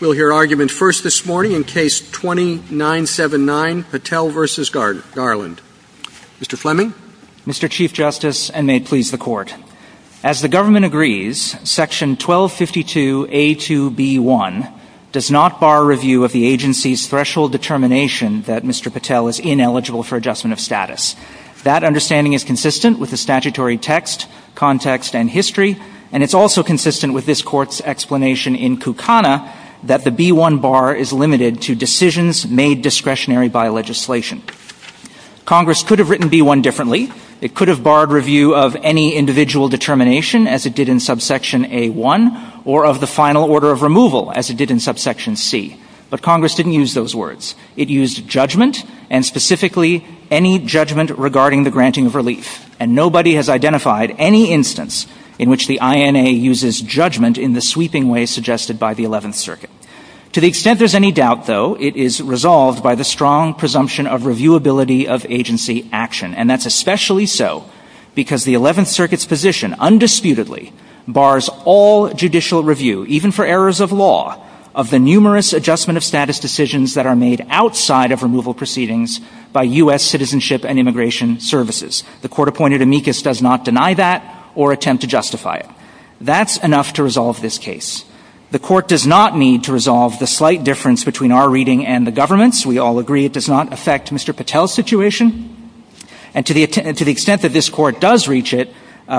We'll hear argument first this morning in case 2979, Patel v. Garland. Mr. Fleming? Mr. Chief Justice, and may it please the Court, as the government agrees, section 1252A2B1 does not bar review of the agency's threshold determination that Mr. Patel is ineligible for adjustment of status. That understanding is consistent with the statutory text, context, and history, and it's also consistent with this Court's explanation in Kukana that the B1 bar is limited to decisions made discretionary by legislation. Congress could have written B1 differently. It could have barred review of any individual determination, as it did in subsection A1, or of the final order of removal, as it did in subsection C. But Congress didn't use those words. It used judgment, and specifically any judgment regarding the granting of relief. And nobody has identified any instance in which the INA uses judgment in the sweeping way suggested by the Eleventh Circuit. To the extent there's any doubt, though, it is resolved by the strong presumption of reviewability of agency action, and that's especially so because the Eleventh Circuit's position, undisputedly, bars all judicial review, even for errors of law, of the numerous adjustment of status decisions that are made outside of removal proceedings by U.S. Citizenship and Immigration Services. The court-appointed amicus does not deny that or attempt to justify it. That's enough to resolve this case. The court does not need to resolve the slight difference between our reading and the government's. We all agree it does not affect Mr. Patel's situation. And to the extent that this court does reach it,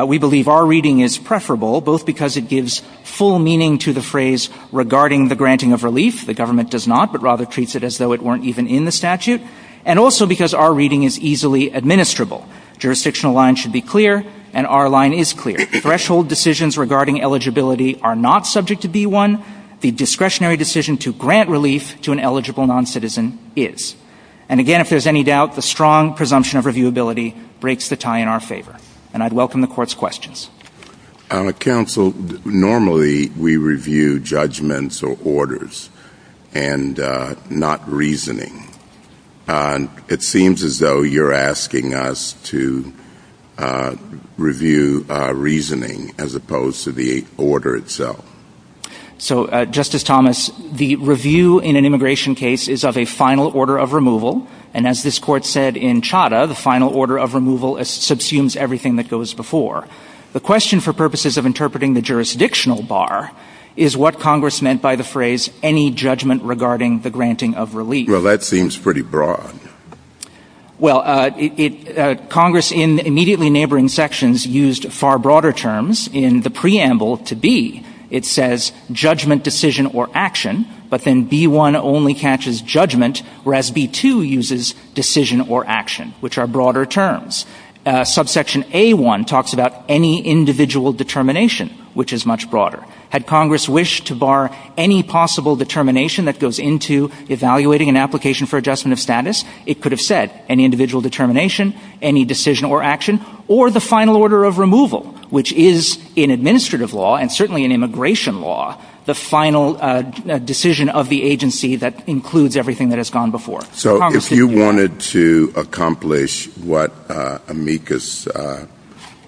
we believe our reading is preferable, both because it gives full meaning to the phrase regarding the granting of relief, the government does not, but rather treats it as though it weren't even in the statute, and also because our reading is easily administrable. Jurisdictional lines should be clear, and our line is clear. Threshold decisions regarding eligibility are not subject to B-1. The discretionary decision to grant relief to an eligible non-citizen is. And again, if there's any doubt, the strong presumption of reviewability breaks the tie in our favor. And I'd welcome the court's questions. Counsel, normally we review judgments or orders and not reasoning. It seems as though you're asking us to review reasoning as opposed to the order itself. So, Justice Thomas, the review in an immigration case is of a final order of removal, and as this court said in Chadha, the final order of removal subsumes everything that goes before. The question for purposes of interpreting the jurisdictional bar is what Congress meant by the phrase, any judgment regarding the granting of relief. Well, that seems pretty broad. Well, Congress in immediately neighboring sections used far broader terms in the preamble to B. It says judgment, decision, or action, but then B-1 only catches judgment, whereas B-2 uses decision or action, which are broader terms. Subsection A-1 talks about any individual determination, which is much broader. Had Congress wished to bar any possible determination that goes into evaluating an application for adjustment of status, it could have said any individual determination, any decision or action, or the final order of removal, which is in administrative law, and certainly in immigration law, the final decision of the agency that includes everything that has gone before. So, if you wanted to accomplish what Amicus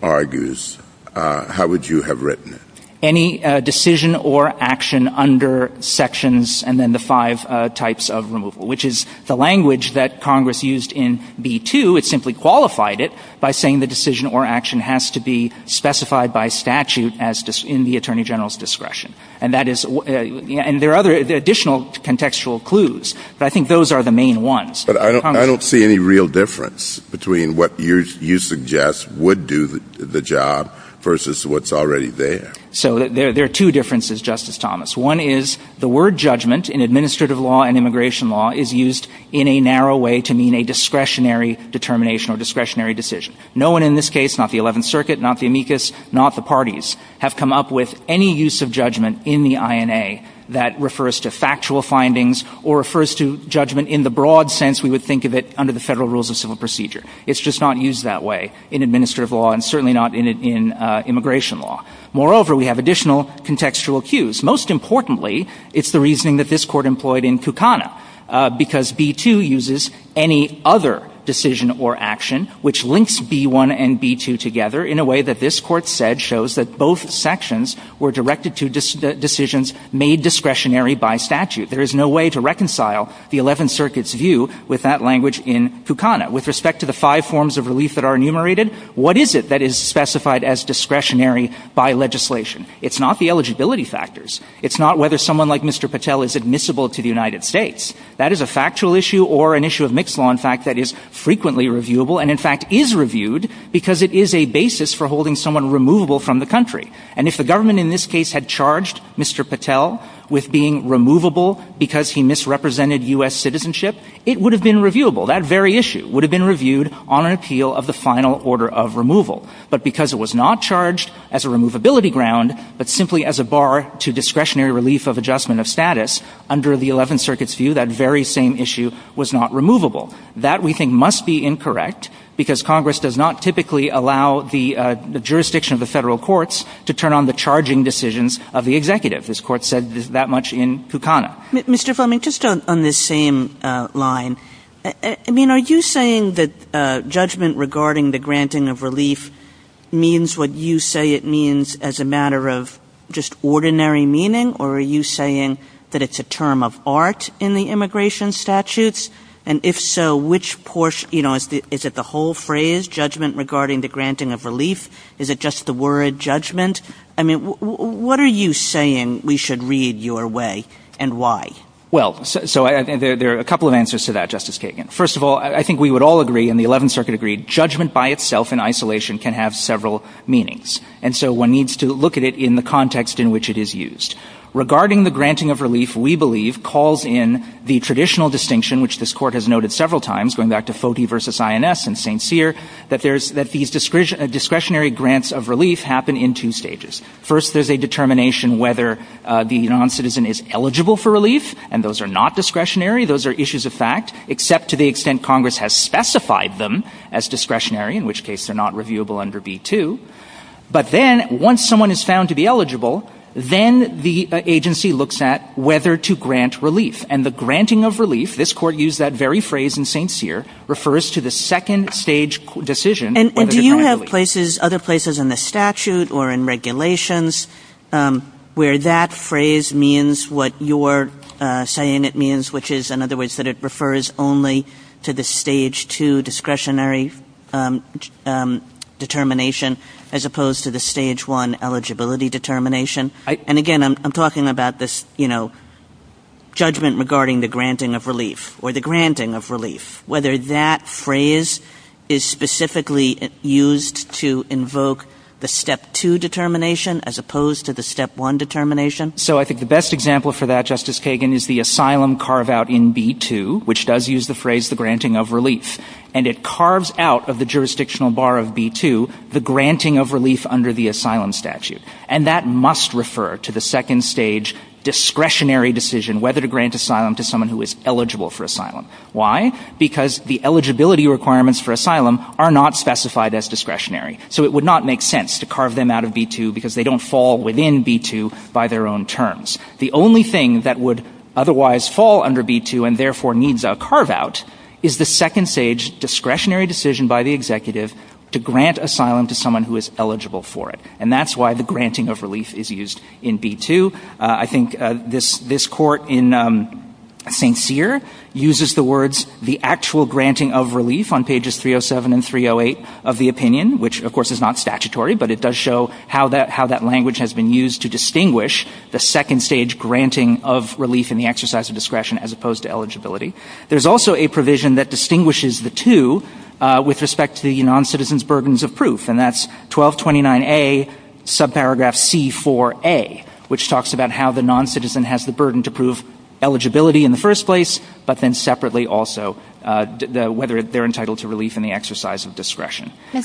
argues, how would you have written it? Any decision or action under sections, and then the five types of removal, which is the language that Congress used in B-2. It simply qualified it by saying the decision or action has to be specified by statute as in the Attorney General's discretion. And that is, and there are other additional contextual clues, but I think those are the main ones. But I don't, I don't see any real difference between what you're, you suggest would do the job versus what's already there. So, there are two differences, Justice Thomas. One is the word judgment in administrative law and immigration law is used in a narrow way to mean a discretionary determination or discretionary decision. No one in this case, not the Eleventh Circuit, not the Amicus, not the parties, have come up with any use of judgment in the INA that refers to factual findings or refers to judgment in the broad sense we would think of it under the federal rules of civil procedure. It's just not used that way in administrative law and certainly not in immigration law. Moreover, we have additional contextual cues. Most importantly, it's the reasoning that this court employed in Kukana, because B-2 uses any other decision or action which links B-1 and B-2 together in a way that this court said shows that both sections were directed to decisions made discretionary by statute. There is no way to reconcile the Eleventh Circuit's view with that language in Kukana. With respect to the five forms of relief that are enumerated, what is it that is specified as discretionary by legislation? It's not the eligibility factors. It's not whether someone like Mr. Patel is admissible to the United States. That is a factual issue or an issue of mixed law, in fact, that is frequently reviewable and in fact is reviewed because it is a basis for holding someone removable from the country. And if the government in this case had charged Mr. Patel with being removable because he misrepresented U.S. citizenship, it would have been reviewable. That very issue would have been reviewed on an appeal of the final order of removal. But because it was not charged as a removability ground, but simply as a bar to discretionary relief of adjustment of status, under the Eleventh Circuit's view, that very same issue was not removable. That, we think, must be incorrect because Congress does not typically allow the jurisdiction of the federal courts to turn on the charging decisions of the executive. This court said that much in Kukana. Mr. Fleming, just on this same line, I mean, are you saying that judgment regarding the granting of relief means what you say it means as a matter of just ordinary meaning? Or are you saying that it's a term of art in the immigration statutes? And if so, which portion, you know, is it the whole phrase, judgment regarding the granting of relief? Is it just the word judgment? I mean, what are you saying we should read your way and why? Well, so there are a couple of answers to that, Justice Kagan. First of all, I think we would all agree, and the Eleventh Circuit agreed, judgment by itself in isolation can have several meanings. And so one needs to look at it in the context in which it is used. Regarding the granting of relief, we believe calls in the traditional distinction, which this court has noted several times, going back to Foti versus INS and St. Cyr, that these discretionary grants of relief happen in two stages. First, there's a determination whether the non-citizen is eligible for relief, and those are not discretionary. Those are issues of fact, except to the extent Congress has specified them as discretionary, in which case they're not reviewable under B-2. But then, once someone is found to be eligible, then the agency looks at whether to grant relief. And the granting of relief, this court used that very phrase in St. Cyr, refers to the second stage decision. And do you have other places in the statute or in regulations where that phrase means what you're saying it means, which is, in other words, that it refers only to the Stage 2 discretionary determination, as opposed to the Stage 1 eligibility determination? And again, I'm talking about this, you know, judgment regarding the granting of relief, or the granting of relief, whether that phrase is specifically used to invoke the Step 2 determination, as opposed to the Step 1 determination. So I think the best example for that, Justice Kagan, is the asylum carve-out in B-2, which does use the phrase the granting of relief. And it carves out of the jurisdictional bar of B-2, the granting of relief under the asylum statute. And that must refer to the second stage discretionary decision, whether to grant asylum to someone who is eligible for asylum. Why? Because the eligibility requirements for asylum are not specified as discretionary. So it would not make sense to carve them out of B-2, because they don't fall within B-2 by their own terms. The only thing that would otherwise fall under B-2, and therefore needs a carve-out, is the second stage discretionary decision by the executive to grant asylum to someone who is eligible for it. And that's why the granting of relief is used in B-2. I think this court in St. Cyr uses the words, the actual granting of relief on pages 307 and 308 of the opinion, which of course is not statutory, but it does show how that language has been used to distinguish the second stage granting of relief in the exercise of discretion as opposed to eligibility. There's also a provision that distinguishes the two with respect to the non-citizen's burdens of proof. And that's 1229A, subparagraph C4A, which talks about how the non-citizen has the burden to prove eligibility in the first place, but then separately also whether they're entitled to relief in the exercise of discretion. I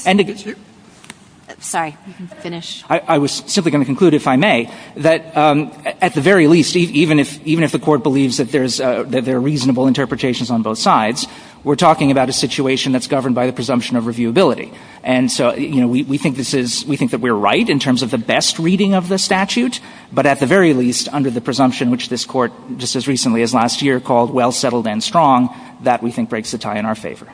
was simply going to conclude, if I may, that at the very least, even if the court believes that there are reasonable interpretations on both sides, we're talking about a situation that's governed by the presumption of reviewability. And so, you know, we think this is, we think that we're right in terms of the best reading of the statute, but at the very least, under the presumption, which this court just as recently as last year called well settled and strong, that we think breaks the tie in our favor.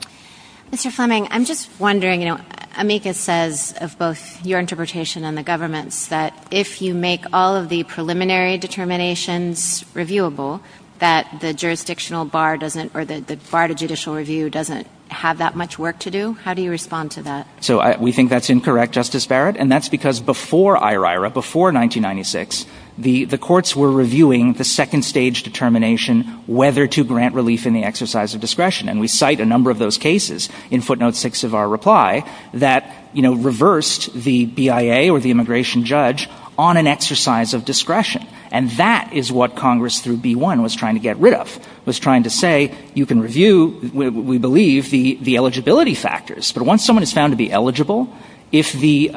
Mr. Fleming, I'm just wondering, you know, Amika says of both your interpretation and the government's that if you make all of the preliminary determinations reviewable that the jurisdictional bar doesn't, or the bar to judicial review doesn't have that much work to do. How do you respond to that? So we think that's incorrect, Justice Barrett. And that's because before IHRA, before 1996, the courts were reviewing the second stage determination whether to grant relief in the exercise of discretion. And we cite a number of those cases in footnote six of our reply that, you know, reversed the BIA or the immigration judge on an exercise of discretion. And that is what Congress through B1 was trying to get rid of, was trying to say, you can review, we believe, the eligibility factors. But once someone is found to be eligible, if the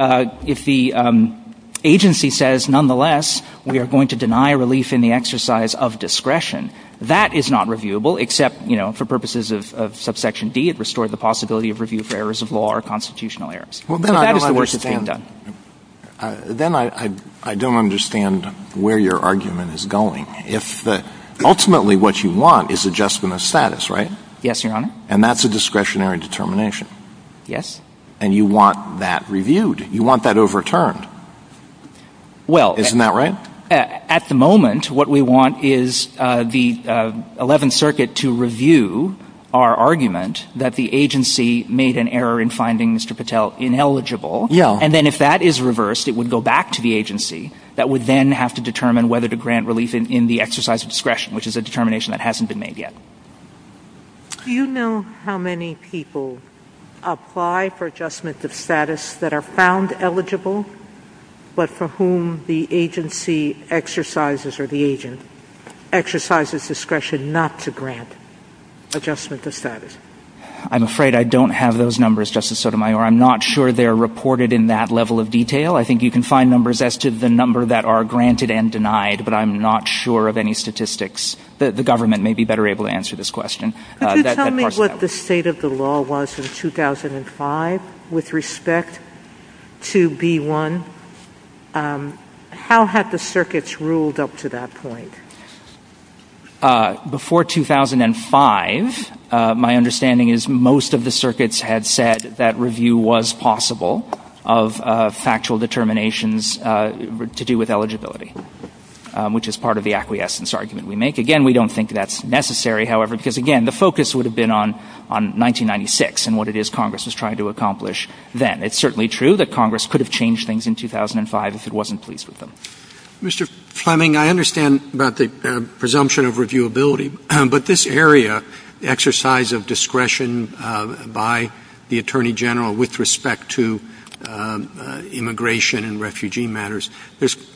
agency says nonetheless we are going to deny relief in the exercise of discretion, that is not reviewable, except, you know, for purposes of subsection B, it restored the possibility of review for errors of law or constitutional errors. That is the work that's being done. Then I don't understand where your argument is going. If ultimately what you want is adjustment of status, right? Yes, Your Honor. And that's a discretionary determination. Yes. And you want that reviewed. You want that overturned. Well. Isn't that right? At the moment, what we want is the 11th Circuit to review our argument that the agency made an error in findings to Patel ineligible. Yeah. And then if that is reversed, it would go back to the agency that would then have to determine whether to grant relief in the exercise of discretion, which is a determination that hasn't been made yet. Do you know how many people apply for adjustment of status that are found eligible, but for whom the agency exercises or the agent exercises discretion not to grant adjustment of status? I'm afraid I don't have those numbers, Justice Sotomayor. I'm not sure they're reported in that level of detail. I think you can find numbers as to the number that are granted and denied, but I'm not sure of any statistics. The government may be better able to answer this question. Could you tell me what the state of the law was in 2005 with respect to B-1? How had the circuits ruled up to that point? Before 2005, my understanding is most of the circuits had said that review was possible of factual determinations to do with eligibility, which is part of the acquiescence argument we make. Again, we don't think that's necessary, however, because again, the focus would have been on 1996 and what it is Congress was trying to accomplish then. It's certainly true that Congress could have changed things in 2005 if it wasn't pleased with them. Mr. Fleming, I understand about the presumption of reviewability, but this area, exercise of discretion by the Attorney General with respect to immigration and refugee matters,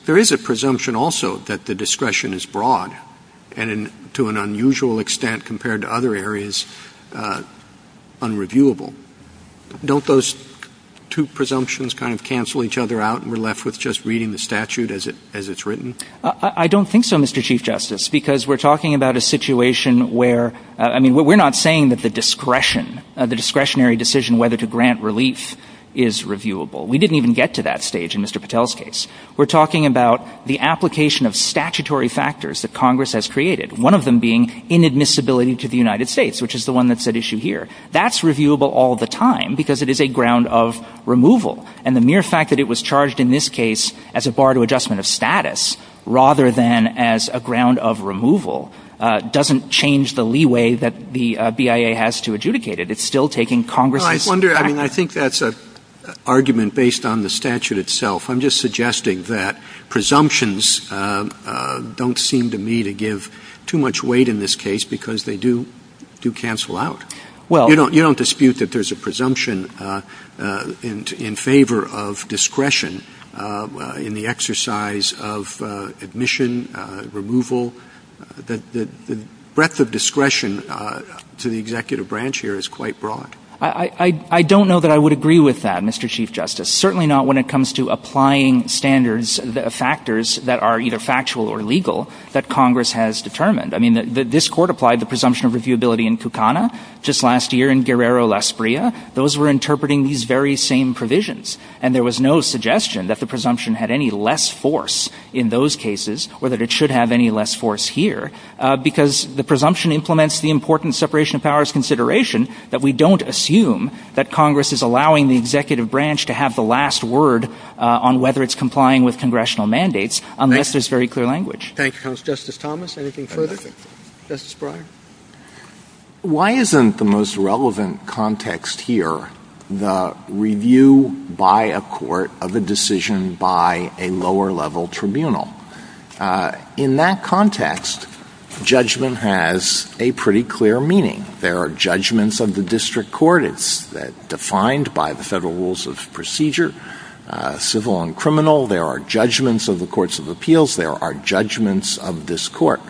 there is a presumption also that the discretion is broad and to an unusual extent compared to other areas unreviewable. Don't those two presumptions kind of cancel each other out and we're left with just reading the statute as it's written? I don't think so, Mr. Chief Justice, because we're talking about a situation where we're not saying that the discretionary decision whether to grant relief is reviewable. We didn't even get to that stage in Mr. Patel's case. We're talking about the application of statutory factors that Congress has created, one of them being inadmissibility to the United States, which is the one that's at issue here. That's reviewable all the time because it is a ground of removal and the mere fact that it was charged in this case as a bar to adjustment of status rather than as a ground of removal doesn't change the leeway that the BIA has to adjudicate it. It's still taking Congress's... I wonder, I mean, I think that's an argument based on the statute itself. I'm just suggesting that presumptions don't seem to me to give too much weight in this case because they do cancel out. You don't dispute that there's a presumption in favor of discretion in the exercise of admission, removal, that the breadth of discretion to the executive branch here is quite broad. I don't know that I would agree with that, Mr. Chief Justice, certainly not when it comes to applying standards, the factors that are either factual or legal that Congress has determined. I mean, this court applied the presumption of reviewability in Fukuna just last year and Guerrero-Lasprilla, those were interpreting these very same provisions and there was no suggestion that the presumption had any less force in those cases or that it should have any less force here because the presumption implements the important separation of powers consideration that we don't assume that Congress is allowing the executive branch to have the last word on whether it's complying with congressional mandates unless there's very clear language. Thank you, Justice Thomas. Anything further? Justice Breyer? Why isn't the most relevant context here the review by a court of a decision by a lower level tribunal? In that context, judgment has a pretty clear meaning. There are judgments of the district court as defined by the federal rules of procedure, civil and criminal, there are judgments of the courts of appeals, there are judgments of this court.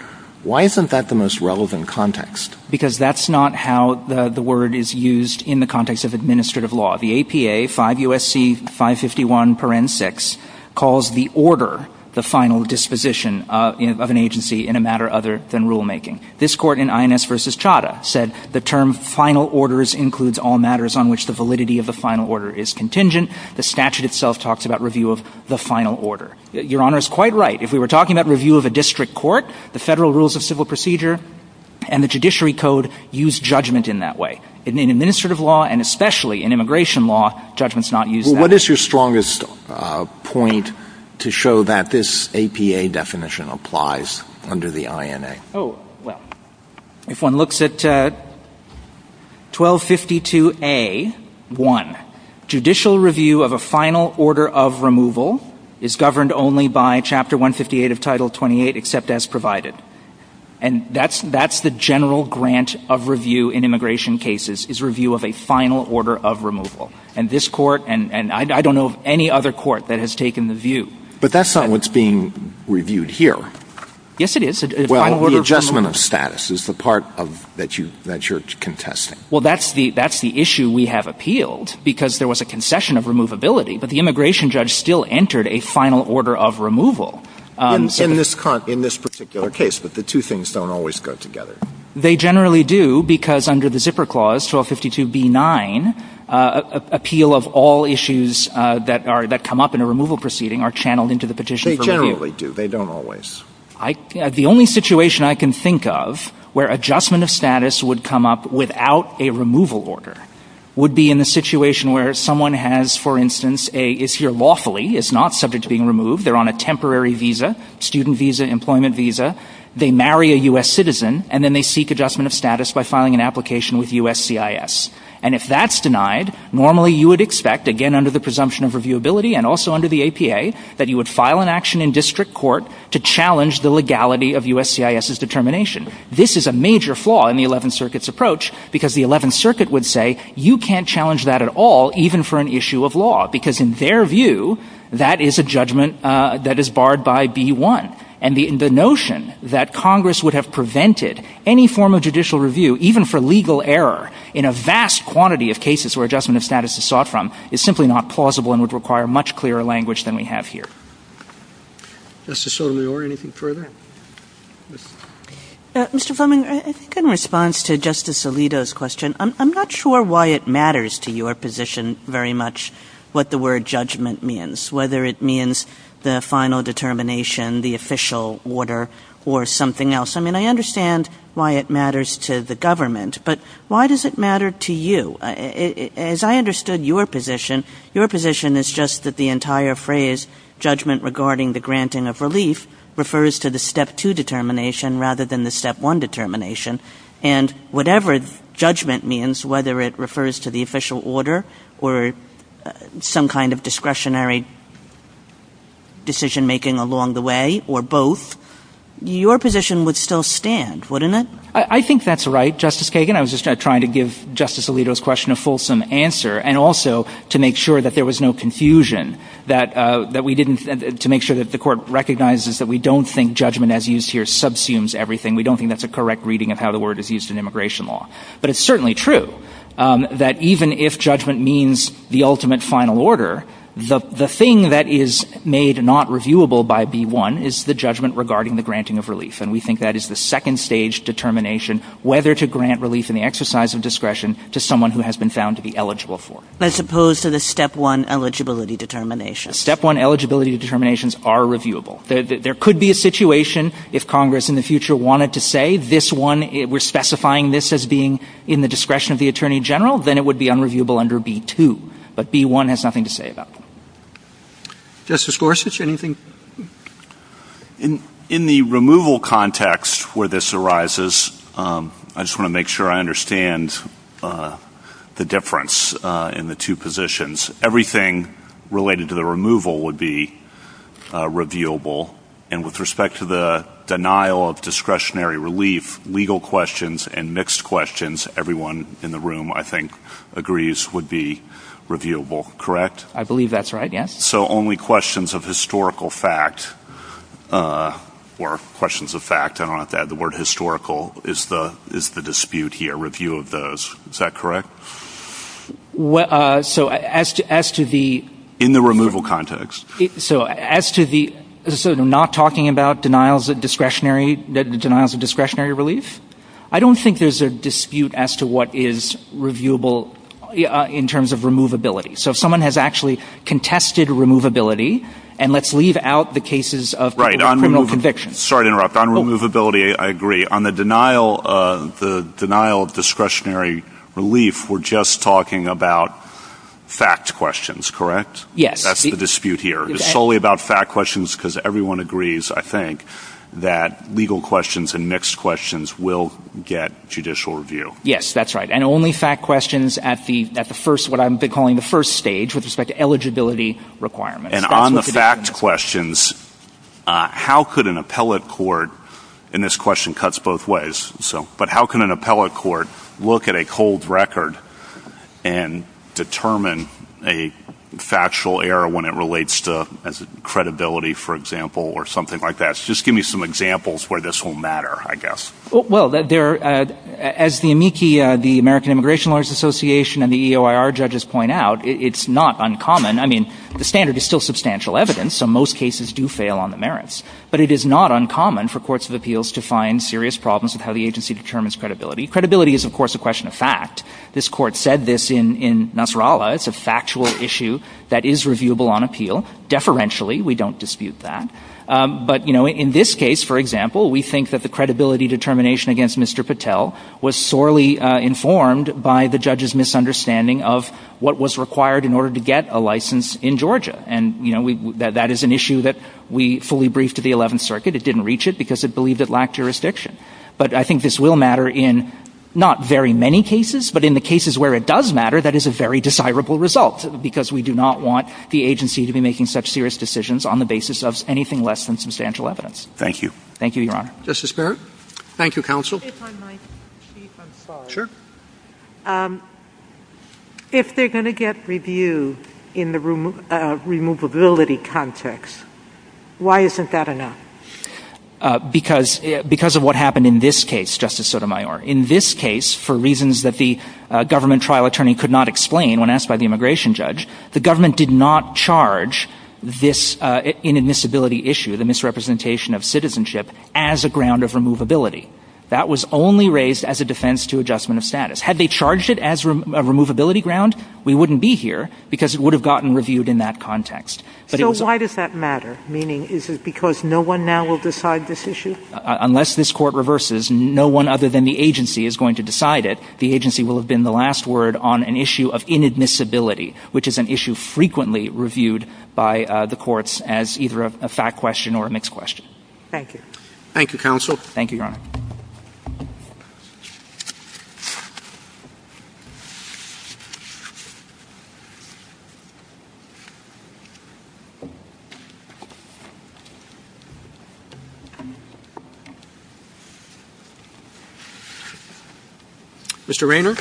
Why isn't that the most relevant context? Because that's not how the word is used in the context of administrative law. The APA, 5 U.S.C. 551 Paren 6 calls the order the final disposition of an agency in a matter other than rulemaking. This court in INS versus Chadha said the term final orders includes all matters on which the validity of the final order is contingent. The statute itself talks about review of the final order. Your Honor is quite right. If we were talking about review of a district court, the federal rules of civil procedure and the judiciary code use judgment in that way. In administrative law and especially in immigration law, judgment's not used that way. What is your strongest point to show that this APA definition applies under the INA? Oh, well, if one looks at 1252 A.1, judicial review of a final order of removal is governed only by Chapter 158 of Title 28 except as provided. And that's the general grant of review in immigration cases is review of a final order of removal. And this court and I don't know of any other court that has taken the view. But that's not what's being reviewed here. Yes, it is. Well, the adjustment of status is the part that you're contesting. Well, that's the issue we have appealed because there was a concession of removability. But the immigration judge still entered a final order of removal. In this particular case, but the two things don't always go together. They generally do because under the zipper clause, 1252 B.9, appeal of all issues that are, that come up in a removal proceeding are channeled into the petition. They generally do. They don't always. The only situation I can think of where adjustment of status would come up without a removal order would be in a situation where someone has, for instance, is here lawfully, is not subject to being removed. They're on a temporary visa, student visa, employment visa. They marry a U.S. citizen and then they seek adjustment of status by filing an application with USCIS. And if that's denied, normally you would expect, again, under the presumption of reviewability and also under the APA, that you would file an action in district court to challenge the legality of USCIS's determination. This is a major flaw in the 11th Circuit's approach because the 11th Circuit would say, you can't challenge that at all even for an issue of law. Because in their view, that is a judgment that is barred by B.1. And the notion that Congress would have prevented any form of judicial review even for legal error in a vast quantity of cases where adjustment of status is sought from is simply not plausible and would require much clearer language than we have here. Mr. Solior, anything further? Mr. Fleming, in response to Justice Alito's question, I'm not sure why it matters to your position very much what the word judgment means, whether it means the final determination, the official order, or something else. I mean, I understand why it matters to the government, but why does it matter to you? As I understood your position, your position is just that the entire phrase, judgment regarding the granting of relief, refers to the Step 2 determination rather than the Step 1 determination, and whatever judgment means, whether it refers to the official order or some kind of discretionary decision making along the way or both, your position would still stand, wouldn't it? I think that's right, Justice Kagan. I was just trying to give Justice Alito's question a fulsome answer and also to make sure that there was no confusion, that we didn't, to make sure that the court recognizes that we don't think judgment as used here subsumes everything. We don't think that's a correct reading of how the word is used in immigration law. But it's certainly true that even if judgment means the ultimate final order, the thing that is made not reviewable by B1 is the judgment regarding the granting of relief, and we think that is the second stage determination, whether to grant relief in the exercise of discretion to someone who has been found to be eligible for it. As opposed to the Step 1 eligibility determination. Step 1 eligibility determinations are reviewable. There could be a situation if Congress in the future wanted to say this one, we're specifying this as being in the discretion of the Attorney General, then it would be unreviewable under B2. But B1 has nothing to say about that. Justice Gorsuch, anything? In the removal context where this arises, I just want to make sure I understand the difference in the two positions, everything related to the removal would be reviewable. And with respect to the denial of discretionary relief, legal questions and mixed questions, everyone in the room I think agrees would be reviewable, correct? I believe that's right, yes. So only questions of historical fact, or questions of fact, I don't know if that, the word historical is the dispute here, review of those, is that correct? So as to the... In the removal context. So as to the, so not talking about denials of discretionary, denials of discretionary relief, I don't think there's a dispute as to what is reviewable in terms of removability. So if someone has actually contested removability, and let's leave out the cases of criminal convictions. Sorry to interrupt, on removability I agree. On the denial of discretionary relief, we're just talking about fact questions, correct? Yes. That's the dispute here. It's solely about fact questions because everyone agrees, I think, that legal questions and mixed questions will get judicial review. Yes, that's right. And only fact questions at the first, what I'm calling the first stage, with respect to eligibility requirements. And on the fact questions, how could an appellate court, and this question cuts both ways, so, how can an appellate court look at a cold record and determine a factual error when it relates to credibility, for example, or something like that? So just give me some examples where this will matter, I guess. Well, as the AMICI, the American Immigration Lawyers Association, and the EOIR judges point out, it's not uncommon. I mean, the standard is still substantial evidence, so most cases do fail on the merits. But it is not uncommon for courts of appeals to find serious problems with how the agency determines credibility. Credibility is, of course, a question of fact. This court said this in Nasrallah. It's a factual issue that is reviewable on appeal. Deferentially, we don't dispute that. But, you know, in this case, for example, we think that the credibility determination against Mr. Patel was sorely informed by the judge's misunderstanding of what was required in order to get a license in Georgia. And, you know, that is an issue that we fully briefed to the 11th Circuit. It didn't reach it because it believed it lacked jurisdiction. But I think this will matter in not very many cases, but in the cases where it does matter, that is a very desirable result, because we do not want the agency to be making such serious decisions on the basis of anything less than substantial evidence. Thank you. Thank you, Your Honor. Justice Barrett? Thank you, Counsel. If I might, Chief, I'm sorry. Sure. If they're going to get review in the removability context, why isn't that enough? Because of what happened in this case, Justice Sotomayor. In this case, for reasons that the government trial attorney could not explain when asked by the immigration judge, the government did not charge this inadmissibility issue, the misrepresentation of citizenship, as a ground of removability. That was only raised as a defense to adjustment of status. Had they charged it as a removability ground, we wouldn't be here because it would have gotten reviewed in that context. So why does that matter? Meaning, is it because no one now will decide this issue? Unless this court reverses, no one other than the agency is going to decide it. The agency will have been the last word on an issue of inadmissibility, which is an issue frequently reviewed by the courts as either a fact question or a mixed question. Thank you. Thank you, Counsel. Thank you, Your Honor. Mr. Raynor?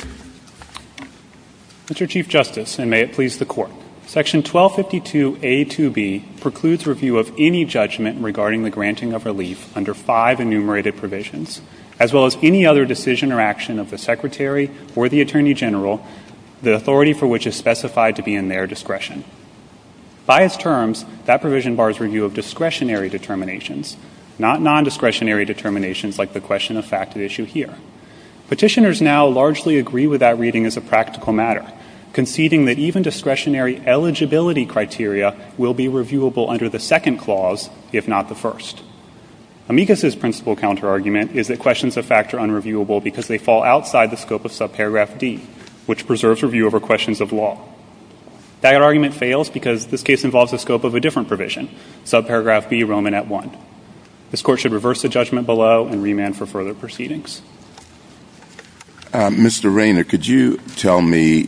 Mr. Chief Justice, and may it please the Court, Section 1252A2B precludes review of any judgment regarding the granting of relief under five enumerated provisions, as well as any other decision or action of the Secretary or the Attorney General, the authority for which is specified to be in their discretion. By its terms, that provision bars review of discretionary determinations, not nondiscretionary determinations like the question of fact at issue here. Petitioners now largely agree with that reading as a practical matter, conceding that even discretionary eligibility criteria will be reviewable under the second clause, if not the first. Amicus' principal counterargument is that questions of fact are unreviewable because they fall outside the scope of subparagraph D, which preserves review over questions of law. That argument fails because this case involves the scope of a different provision, subparagraph B, Roman at 1. This Court should reverse the judgment below and remand for further proceedings. Mr. Raynor, could you tell me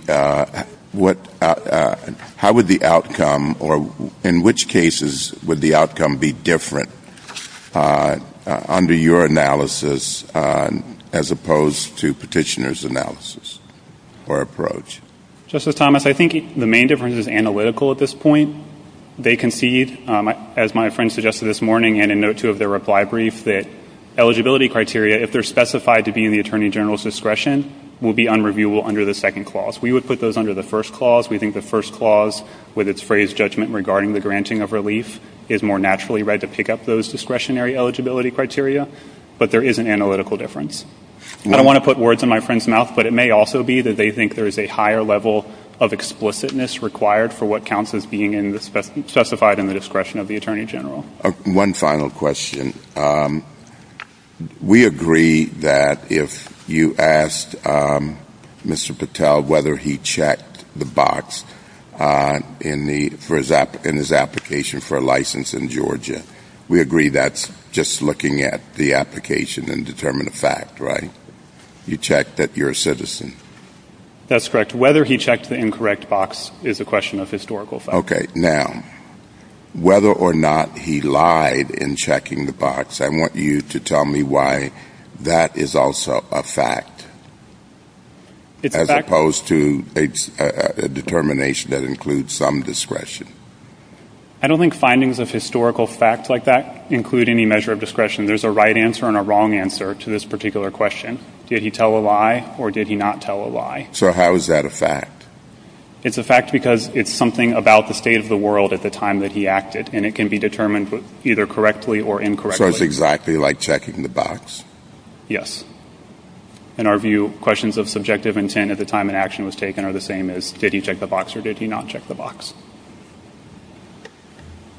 what, how would the outcome, or in which cases would the outcome be different under your analysis, as opposed to petitioner's analysis or approach? Justice Thomas, I think the main difference is analytical at this point. They concede, as my friend suggested this morning in a note to their reply brief, that eligibility criteria, if they're specified to be in the Attorney General's discretion, will be unreviewable under the second clause. We would put those under the first clause. We think the first clause, with its phrased judgment regarding the granting of relief, is more naturally read to pick up those discretionary eligibility criteria, but there is an analytical difference. I don't want to put words in my friend's mouth, but it may also be that they think there is a higher level of explicitness required for what counts as being specified in the discretion of the Attorney General. One final question. We agree that if you asked Mr. Patel whether he checked the box in his application for a license in Georgia, we agree that's just looking at the application and determine the fact, right? You checked that you're a citizen. That's correct. Whether he checked the incorrect box is a question of historical fact. Okay. Now, whether or not he lied in checking the box, I want you to tell me why that is also a fact. It's a fact. As opposed to a determination that includes some discretion. I don't think findings of historical fact like that include any measure of discretion. There's a right answer and a wrong answer to this particular question. Did he tell a lie or did he not tell a lie? So how is that a fact? It's a fact because it's something about the state of the world at the time that he acted, and it can be determined either correctly or incorrectly. So it's exactly like checking the box? Yes. In our view, questions of subjective intent at the time an action was taken are the same as did he check the box or did he not check the box?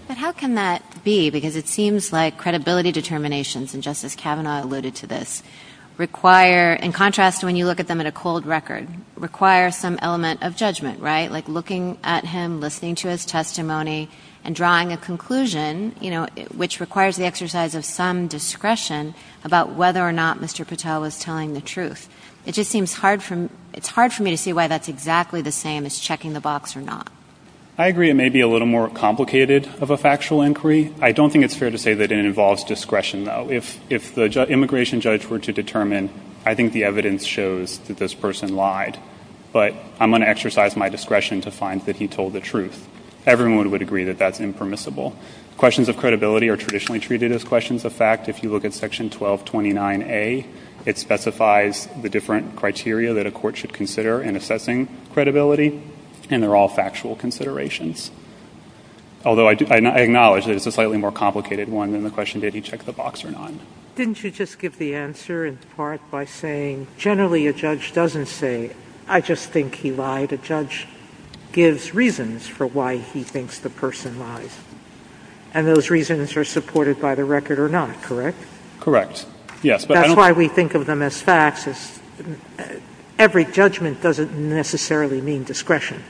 But how can that be? Because it seems like credibility determinations, and Justice Kavanaugh alluded to this, require, in contrast to when you look at them at a cold record, require some element of judgment, right, like looking at him, listening to his testimony, and drawing a conclusion, you know, which requires the exercise of some discretion about whether or not Mr. Patel was telling the truth. It just seems hard from, it's hard for me to see why that's exactly the same as checking the box or not. I agree it may be a little more complicated of a factual inquiry. I don't think it's fair to say that it involves discretion, though. If the immigration judge were to determine, I think the evidence shows that this person lied, but I'm going to exercise my discretion to find that he told the truth. Everyone would agree that that's impermissible. Questions of credibility are traditionally treated as questions of fact. If you look at Section 1229A, it specifies the different criteria that a court should consider in assessing credibility, and they're all factual considerations. Although I acknowledge that it's a slightly more complicated one than the question did he check the box or not. Didn't you just give the answer in part by saying generally a judge doesn't say, I just think he lied, a judge gives reasons for why he thinks the person lied, and those reasons are supported by the record or not, correct? Correct, yes. That's why we think of them as facts. Every judgment doesn't necessarily mean discretion.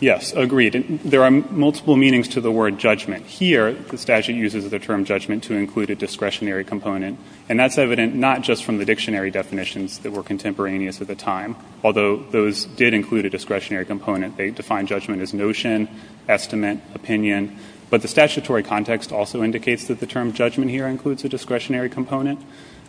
Yes, agreed. And there are multiple meanings to the word judgment. Here, the statute uses the term judgment to include a discretionary component, and that's evident not just from the dictionary definitions that were contemporaneous at the time, although those did include a discretionary component. They define judgment as notion, estimate, opinion, but the statutory context also indicates that the term judgment here includes a discretionary component.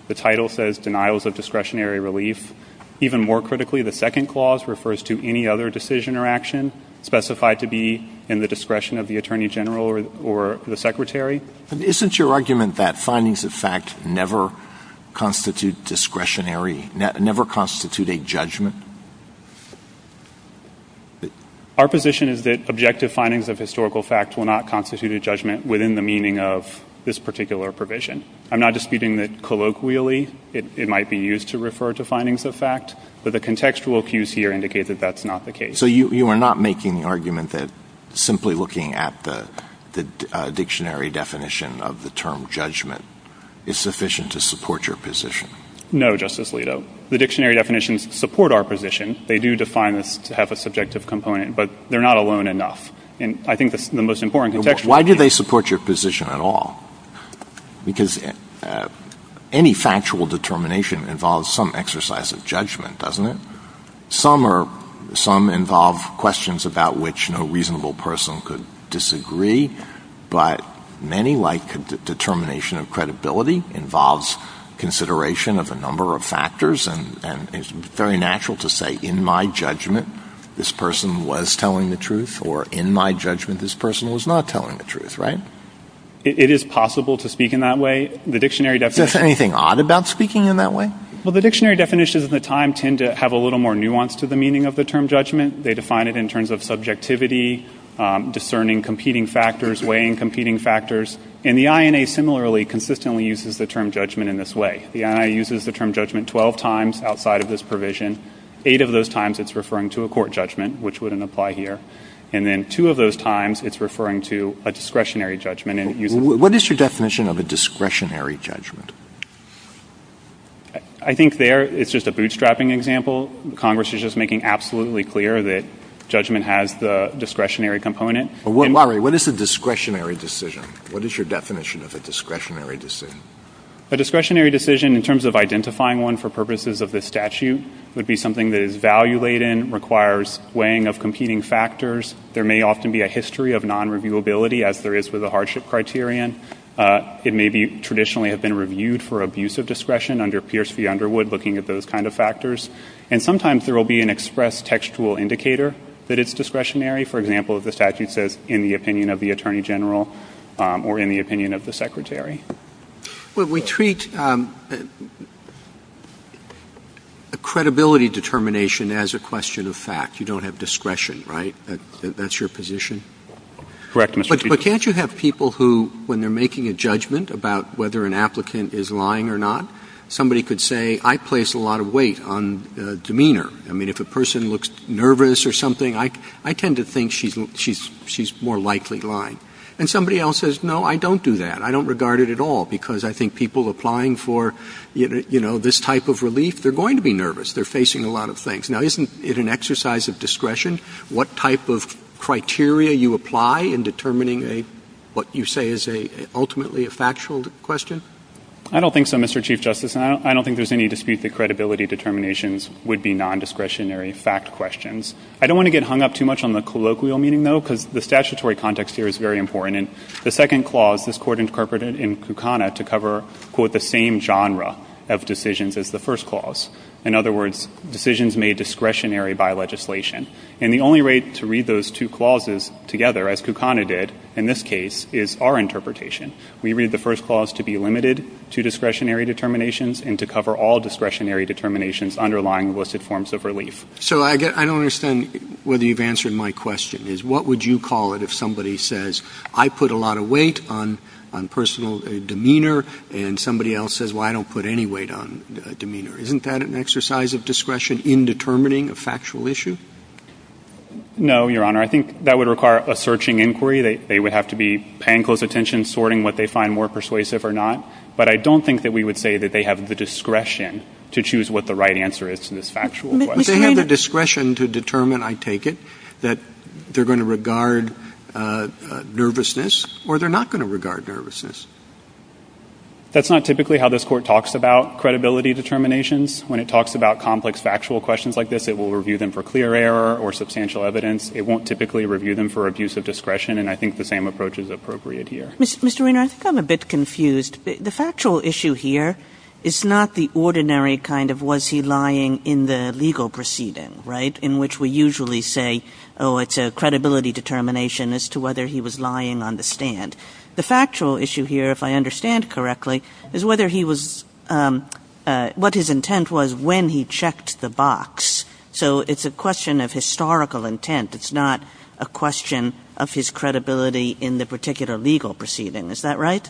The title says denials of discretionary relief. Even more critically, the second clause refers to any other decision or action specified to be in the discretion of the attorney general or the secretary. But isn't your argument that findings of fact never constitute discretionary, never constitute a judgment? Our position is that objective findings of historical facts will not constitute a judgment within the meaning of this particular provision. I'm not disputing that colloquially it might be used to refer to findings of fact, but the contextual cues here indicate that that's not the case. So you are not making the argument that simply looking at the dictionary definition of the term judgment is sufficient to support your position? No, Justice Alito. The dictionary definitions support our position. They do define this to have a subjective component, but they're not alone enough. And I think the most important contextual... Why do they support your position at all? Because any factual determination involves some exercise of judgment, doesn't it? Some involve questions about which no reasonable person could disagree, but many, like the determination of credibility, involves consideration of a number of factors. And it's very natural to say, in my judgment, this person was telling the truth, or in my judgment, this person was not telling the truth, right? It is possible to speak in that way. The dictionary definition... Is there anything odd about speaking in that way? Well, the dictionary definitions of the time tend to have a little more nuance to the meaning of the term judgment. They define it in terms of subjectivity, discerning competing factors, weighing competing factors, and the INA, similarly, consistently uses the term judgment in this way. The INA uses the term judgment 12 times outside of this provision. Eight of those times, it's referring to a court judgment, which wouldn't apply here. And then two of those times, it's referring to a discretionary judgment. And you... What is your definition of a discretionary judgment? I think there, it's just a bootstrapping example. Congress is just making absolutely clear that judgment has the discretionary component. But what... Larry, what is the discretionary decision? What is your definition of a discretionary decision? A discretionary decision, in terms of identifying one for purposes of the statute, would be something that is value-laden, requires weighing of competing factors. There may often be a history of non-reviewability, as there is with a hardship criterion. It may be traditionally have been reviewed for abuse of discretion under Pierce v. Underwood, looking at those kind of factors. And sometimes, there will be an express textual indicator that it's discretionary. For example, if the statute says, in the opinion of the Attorney General or in the opinion of the Secretary. Well, we treat a credibility determination as a question of fact. You don't have discretion, right? That's your position? Correct, Mr. Chief. But can't you have people who, when they're making a judgment about whether an applicant is lying or not, somebody could say, I place a lot of weight on demeanor. I mean, if a person looks nervous or something, I tend to think she's more likely lying. And somebody else says, no, I don't do that. I don't regard it at all, because I think people applying for, you know, this type of relief, they're going to be nervous. They're facing a lot of things. Now, isn't it an exercise of discretion, what type of criteria you apply in determining what you say is ultimately a factual question? I don't think so, Mr. Chief Justice. And I don't think there's any dispute that credibility determinations would be non-discretionary fact questions. I don't want to get hung up too much on the colloquial meaning, though, because the statutory context here is very important. And the second clause, this Court interpreted in Kukana to cover, quote, the same genre of decisions as the first clause. In other words, decisions made discretionary by legislation. And the only way to read those two clauses together, as Kukana did, in this case, is our interpretation. We read the first clause to be limited to discretionary determinations and to cover all discretionary determinations underlying listed forms of relief. So I don't understand whether you've answered my question, is what would you call it if somebody says, I put a lot of weight on personal demeanor, and somebody else says, well, I don't put any weight on demeanor. Isn't that an exercise of discretion in determining a factual issue? No, Your Honor. I think that would require a searching inquiry. They would have to be paying close attention, sorting what they find more persuasive or not. But I don't think that we would say that they have the discretion to choose what the right answer is in this factual question. But they have the discretion to determine, I take it, that they're going to regard nervousness, or they're not going to regard nervousness. That's not typically how this Court talks about credibility determinations. When it talks about complex factual questions like this, it will review them for clear error or substantial evidence. It won't typically review them for abuse of discretion. And I think the same approach is appropriate here. Mr. Weiner, I think I'm a bit confused. The factual issue here is not the ordinary kind of, was he lying in the legal proceeding, right, in which we usually say, oh, it's a credibility determination as to whether he was lying on the stand. The factual issue here, if I understand correctly, is whether he was what his intent was when he checked the box. So it's a question of historical intent. It's not a question of his credibility in the particular legal proceeding. Is that right?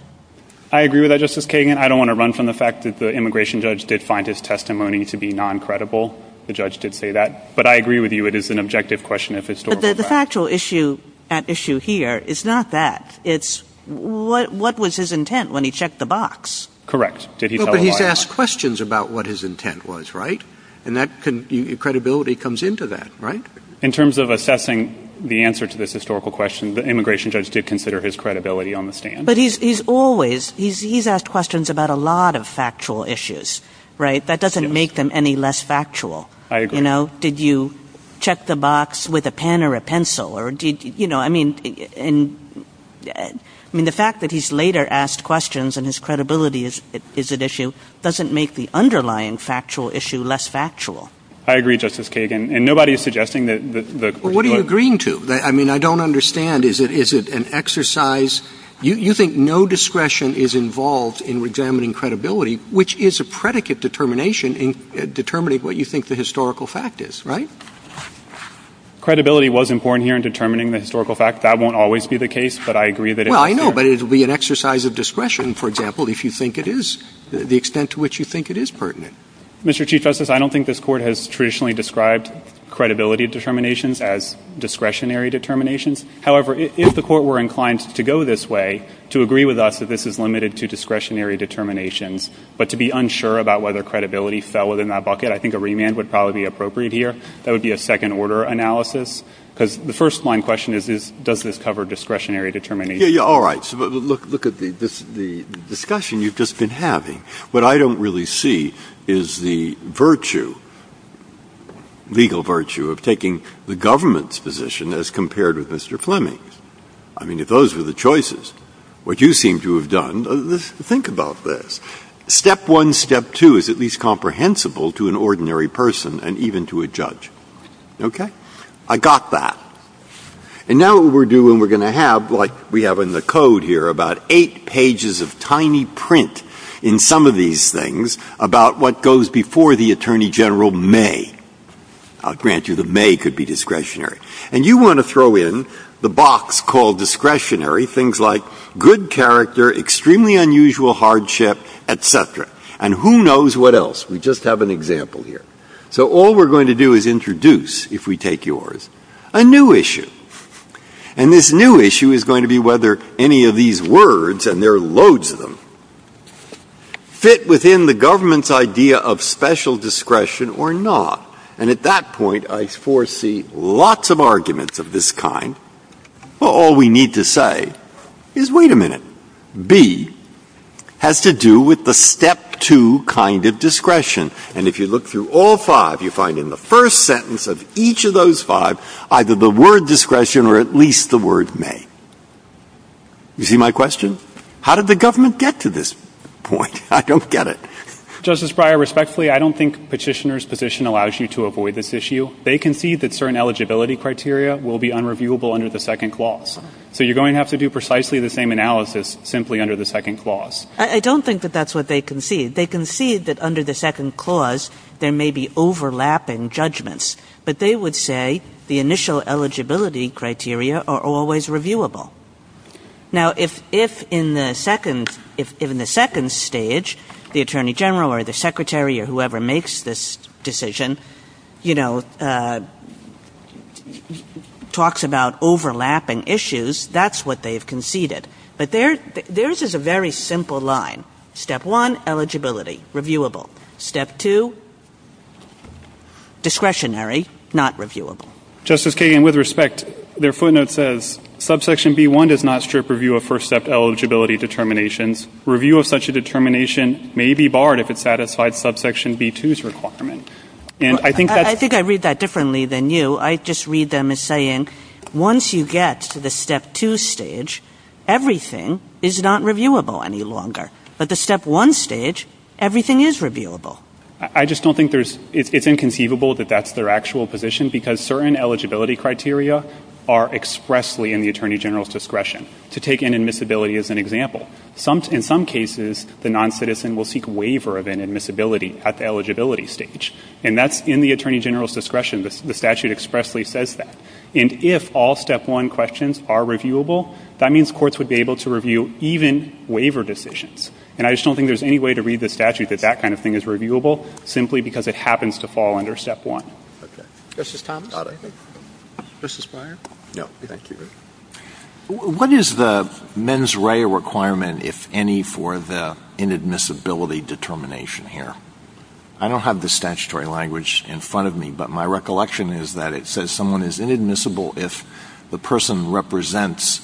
I agree with that, Justice Kagan. I don't want to run from the fact that the immigration judge did find his testimony to be non-credible, the judge did say that. But I agree with you, it is an objective question of historical fact. But the factual issue at issue here is not that. It's what was his intent when he checked the box? Correct. Did he tell a lie? He did ask questions about what his intent was, right? And that credibility comes into that, right? In terms of assessing the answer to this historical question, the immigration judge did consider his credibility on the stand. But he's always, he's asked questions about a lot of factual issues, right? That doesn't make them any less factual. I agree. You know, did you check the box with a pen or a pencil? Or, you know, I mean, and, I mean, the fact that he's later asked questions and his credibility is at issue doesn't make the underlying factual issue less factual. I agree, Justice Kagan. And nobody is suggesting that the... Well, what are you agreeing to? I mean, I don't understand. Is it an exercise? You think no discretion is involved in examining credibility, which is a predicate determination in determining what you think the historical fact is, right? Credibility was important here in determining the historical fact. That won't always be the case, but I agree that... Well, I know, but it would be an exercise of discretion, for example, if you think it is, the extent to which you think it is pertinent. Mr. Chief Justice, I don't think this Court has traditionally described credibility determinations as discretionary determinations. However, if the Court were inclined to go this way, to agree with us that this is limited to discretionary determinations, but to be unsure about whether credibility fell within that bucket, I think a remand would probably be appropriate here. That would be a second-order analysis. Because the first-line question is, does this cover discretionary determinations? Yeah, yeah, all right. So look at the discussion you've just been having. What I don't really see is the virtue, legal virtue, of taking the government's position as compared with Mr. Fleming's. I mean, if those were the choices, what you seem to have done, think about this. Step one, step two is at least comprehensible to an ordinary person and even to a judge. Okay? I got that. And now what we're doing, we're going to have, like we have in the code here, about eight pages of tiny print in some of these things about what goes before the Attorney General may. I'll grant you that may could be discretionary. And you want to throw in the box called discretionary, things like good character, extremely unusual hardship, et cetera. And who knows what else? We just have an example here. So all we're going to do is introduce, if we take yours, a new issue. And this new issue is going to be whether any of these words, and there are loads of them, fit within the government's idea of special discretion or not. And at that point, I foresee lots of arguments of this kind. All we need to say is, wait a minute, B has to do with the step two kind of discretion. And if you look through all five, you find in the first sentence of each of those five, either the word discretion or at least the word may. You see my question? How did the government get to this point? I don't get it. Justice Breyer, respectfully, I don't think Petitioner's position allows you to avoid this issue. They concede that certain eligibility criteria will be unreviewable under the second clause. So you're going to have to do precisely the same analysis simply under the second clause. I don't think that that's what they concede. They concede that under the second clause, there may be overlapping judgments. But they would say the initial eligibility criteria are always reviewable. Now, if in the second stage, the Attorney General or the Secretary or whoever makes this decision, you know, talks about overlapping issues, that's what they've conceded. But theirs is a very simple line. Step one, eligibility, reviewable. Step two, discretionary, not reviewable. Justice Kagan, with respect, their footnote says, subsection B-1 does not strip review of first step eligibility determinations. Review of such a determination may be barred if it satisfies subsection B-2's requirement. And I think that's- I think I read that differently than you. I just read them as saying, once you get to the step two stage, everything is not reviewable any longer. But the step one stage, everything is reviewable. I just don't think there's- it's inconceivable that that's their actual position because certain eligibility criteria are expressly in the Attorney General's discretion to take inadmissibility as an example. In some cases, the non-citizen will take waiver of inadmissibility at the eligibility stage. And that's in the Attorney General's discretion. The statute expressly says that. And if all step one questions are reviewable, that means courts would be able to review even waiver decisions. And I just don't think there's any way to read the statute that that kind of thing is reviewable simply because it happens to fall under step one. Okay. This is Thomas. This is Byron. No. Thank you. What is the mens rea requirement, if any, for the inadmissibility determination here? I don't have the statutory language in front of me, but my recollection is that it says someone is inadmissible if the person represents-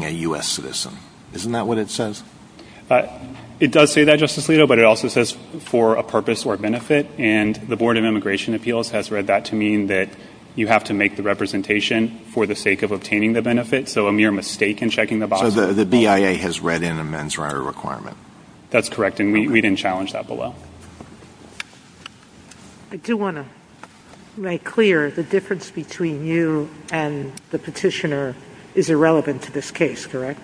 a U.S. citizen. Isn't that what it says? But it does say that, Justice Alito, but it also says for a purpose or benefit. And the Board of Immigration Appeals has read that to mean that you have to make the representation for the sake of obtaining the benefit. So a mere mistake in checking the box. So the BIA has read in the mens rea requirement. That's correct. And we didn't challenge that below. I do want to make clear the difference between you and the petitioner is irrelevant to this case, correct?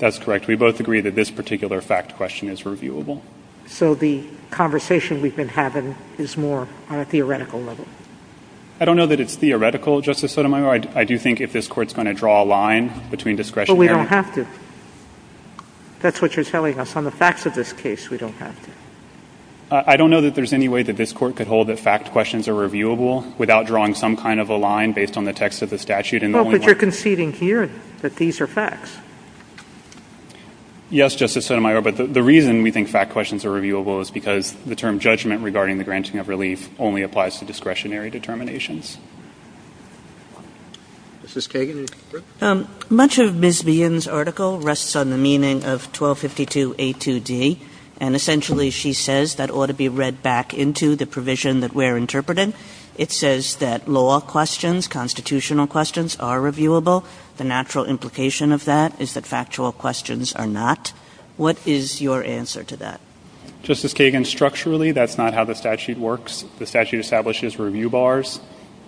That's correct. We both agree that this particular fact question is reviewable. So the conversation we've been having is more on a theoretical level. I don't know that it's theoretical, Justice Sotomayor. I do think if this court's going to draw a line between discretionary- But we don't have to. That's what you're telling us. On the facts of this case, we don't have to. I don't know that there's any way that this court could hold that fact questions are reviewable without drawing some kind of a line based on the text of the statute. And the only one- Well, but you're conceding here that these are facts. Yes, Justice Sotomayor. But the reason we think fact questions are reviewable is because the term judgment regarding the granting of relief only applies to discretionary determinations. Justice Kagan, is that correct? Much of Ms. Meehan's article rests on the meaning of 1252A2D. And essentially, she says that ought to be read back into the provision that we're interpreting. It says that law questions, constitutional questions, are reviewable. The natural implication of that is that factual questions are not. What is your answer to that? Justice Kagan, structurally, that's not how the statute works. The statute establishes review bars,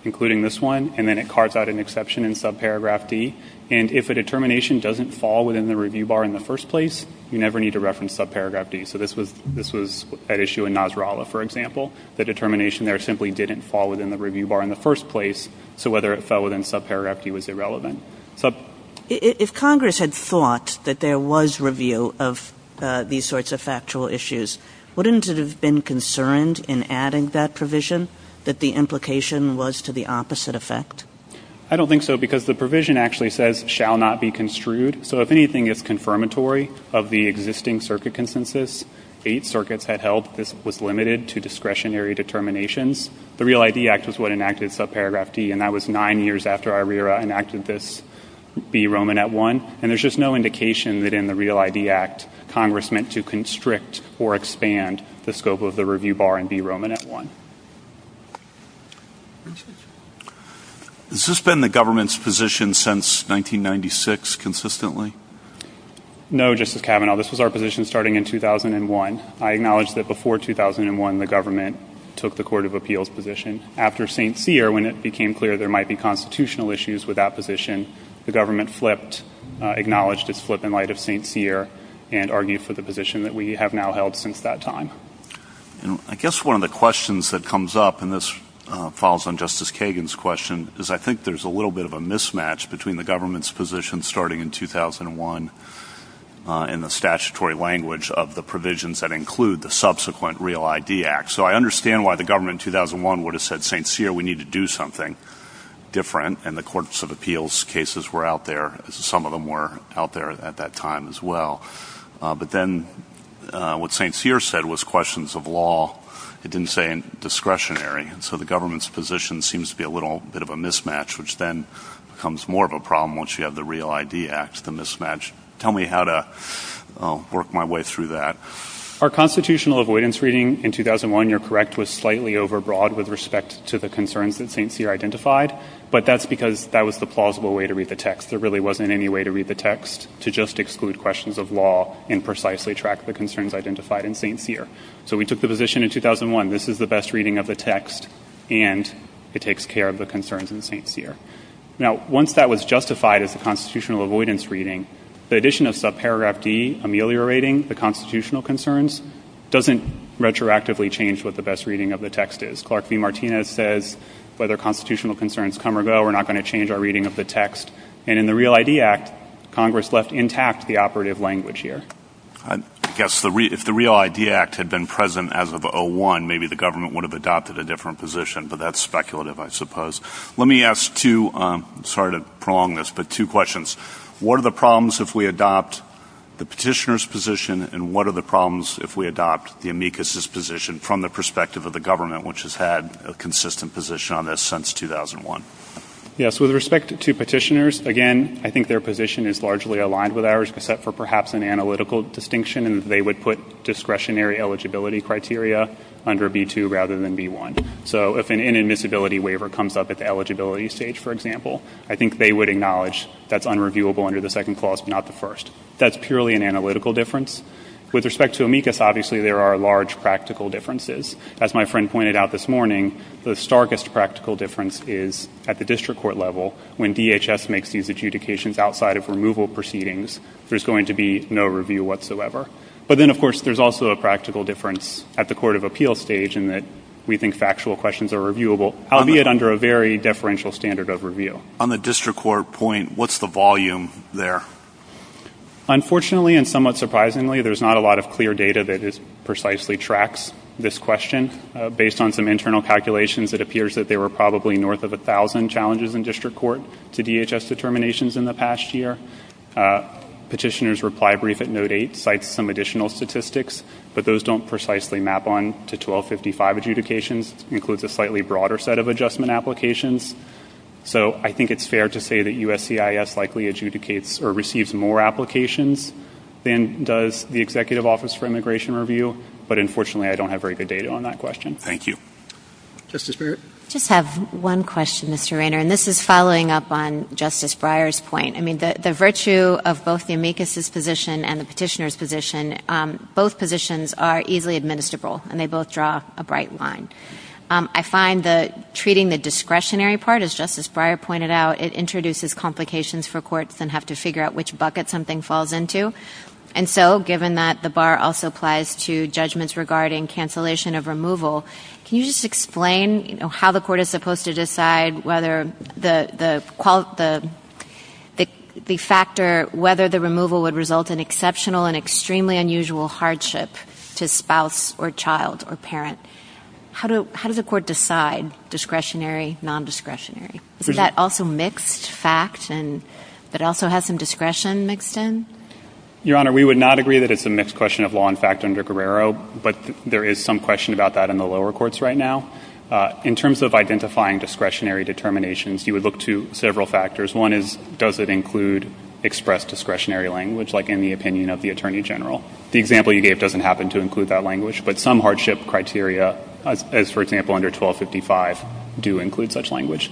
including this one, and then it cards out an exception in subparagraph D. And if a determination doesn't fall within the review bar in the first place, you never need to reference subparagraph D. So this was at issue in Nasrallah, for example. The determination there simply didn't fall within the review bar in the first place. So whether it fell within subparagraph D was irrelevant. If Congress had thought that there was review of these sorts of factual issues, wouldn't it have been concerned in adding that provision that the implication was to the opposite effect? I don't think so, because the provision actually says, shall not be construed. So if anything is confirmatory of the existing circuit consensus, eight circuits had held this was limited to discretionary determinations. The Real ID Act is what enacted subparagraph D, and that was nine years after ARERA enacted this B Romanet I. And there's just no indication that in the Real ID Act, Congress meant to constrict or expand the scope of the review bar in B Romanet I. Has this been the government's position since 1996 consistently? No, Justice Kavanaugh. This is our position starting in 2001. I acknowledge that before 2001, the government took the Court of Appeals position. After St. Pierre, when it became clear there might be constitutional issues with that position, the government flipped, acknowledged its flip in light of St. Pierre, and argued for the position that we have now held since that time. I guess one of the questions that comes up, and this falls on Justice Kagan's question, is I think there's a little bit of a mismatch between the government's position starting in 2001 in the statutory language of the provisions that include the subsequent Real ID Act. So I understand why the government in 2001 would have said, St. Pierre, we need to do something different, and the Courts of Appeals cases were out there, as some of them were out there at that time as well. But then what St. Pierre said was questions of law, it didn't say discretionary. And so the government's position seems to be a little bit of a mismatch, which then becomes more of a problem once you have the Real ID Act, the mismatch. Tell me how to work my way through that. Our constitutional avoidance reading in 2001, you're correct, was slightly overbroad with respect to the concerns that St. Pierre identified, but that's because that was the plausible way to read the text. There really wasn't any way to read the text to just exclude questions of law and precisely track the concerns identified in St. Pierre. So we took the position in 2001, this is the best reading of the text, and it takes care of the concerns in St. Pierre. Now, once that was justified as a constitutional avoidance reading, the addition of subparagraph D, ameliorating the constitutional concerns, doesn't retroactively change what the best reading of the text is. Clark V. Martinez says, whether constitutional concerns come or go, we're not going to change our reading of the text. And in the Real ID Act, Congress left intact the operative language here. Yes, if the Real ID Act had been present as of 2001, maybe the government would have adopted a different position, but that's speculative, I suppose. Let me ask two, sorry to prolong this, but two questions. What are the problems if we adopt the petitioner's position, and what are the problems if we adopt the amicus's position from the perspective of the government, which has had a consistent position on this since 2001? Yes, with respect to petitioners, again, I think their position is largely aligned with ours, except for perhaps an analytical distinction, and they would put discretionary eligibility criteria under B2 rather than B1. So if an inadmissibility waiver comes up at the eligibility stage, for example, I think they would acknowledge that's unreviewable under the second clause, not the first. That's purely an analytical difference. With respect to amicus, obviously there are large practical differences. As my friend pointed out this morning, the starkest practical difference is at the district court level, when DHS makes these adjudications outside of removal proceedings, there's going to be no review whatsoever. But then, of course, there's also a practical difference at the court of appeals stage in that we think factual questions are reviewable, albeit under a very deferential standard of review. On the district court point, what's the volume there? Unfortunately, and somewhat surprisingly, there's not a lot of clear data that precisely tracks this question. Based on some internal calculations, it appears that they were probably north of 1,000 challenges in district court to DHS determinations in the past year. Petitioner's reply brief at no date cites some additional statistics, but those don't precisely map on to 1255 adjudications. Includes a slightly broader set of adjustment applications. So I think it's fair to say that USCIS likely adjudicates or receives more applications than does the Executive Office for Immigration Review, but unfortunately I don't have very good data on that question. Thank you. Justice Breyer. I just have one question, Mr. Raynor, and this is following up on Justice Breyer's point. I mean, the virtue of both the amicus's position and the petitioner's position, both positions are easily administrable, and they both draw a bright line. I find that treating the discretionary part, as Justice Breyer pointed out, it introduces complications for courts and have to figure out which bucket something falls into. And so, given that the bar also applies to judgments regarding cancellation of removal, can you just explain, you know, how the court is supposed to decide whether the factor, whether the removal would result in exceptional and extremely unusual hardship to spouse or child or parent? How does the court decide discretionary, non-discretionary? Is that also mixed facts and that also has some discretion mixed in? Your Honor, we would not agree that it's a mixed question of law and fact under Guerrero, but there is some question about that in the lower courts right now. In terms of identifying discretionary determinations, you would look to several factors. One is, does it include expressed discretionary language like in the opinion of the Attorney General? The example you gave doesn't happen to include that language, but some hardship criteria, as for example under 1255, do include such language.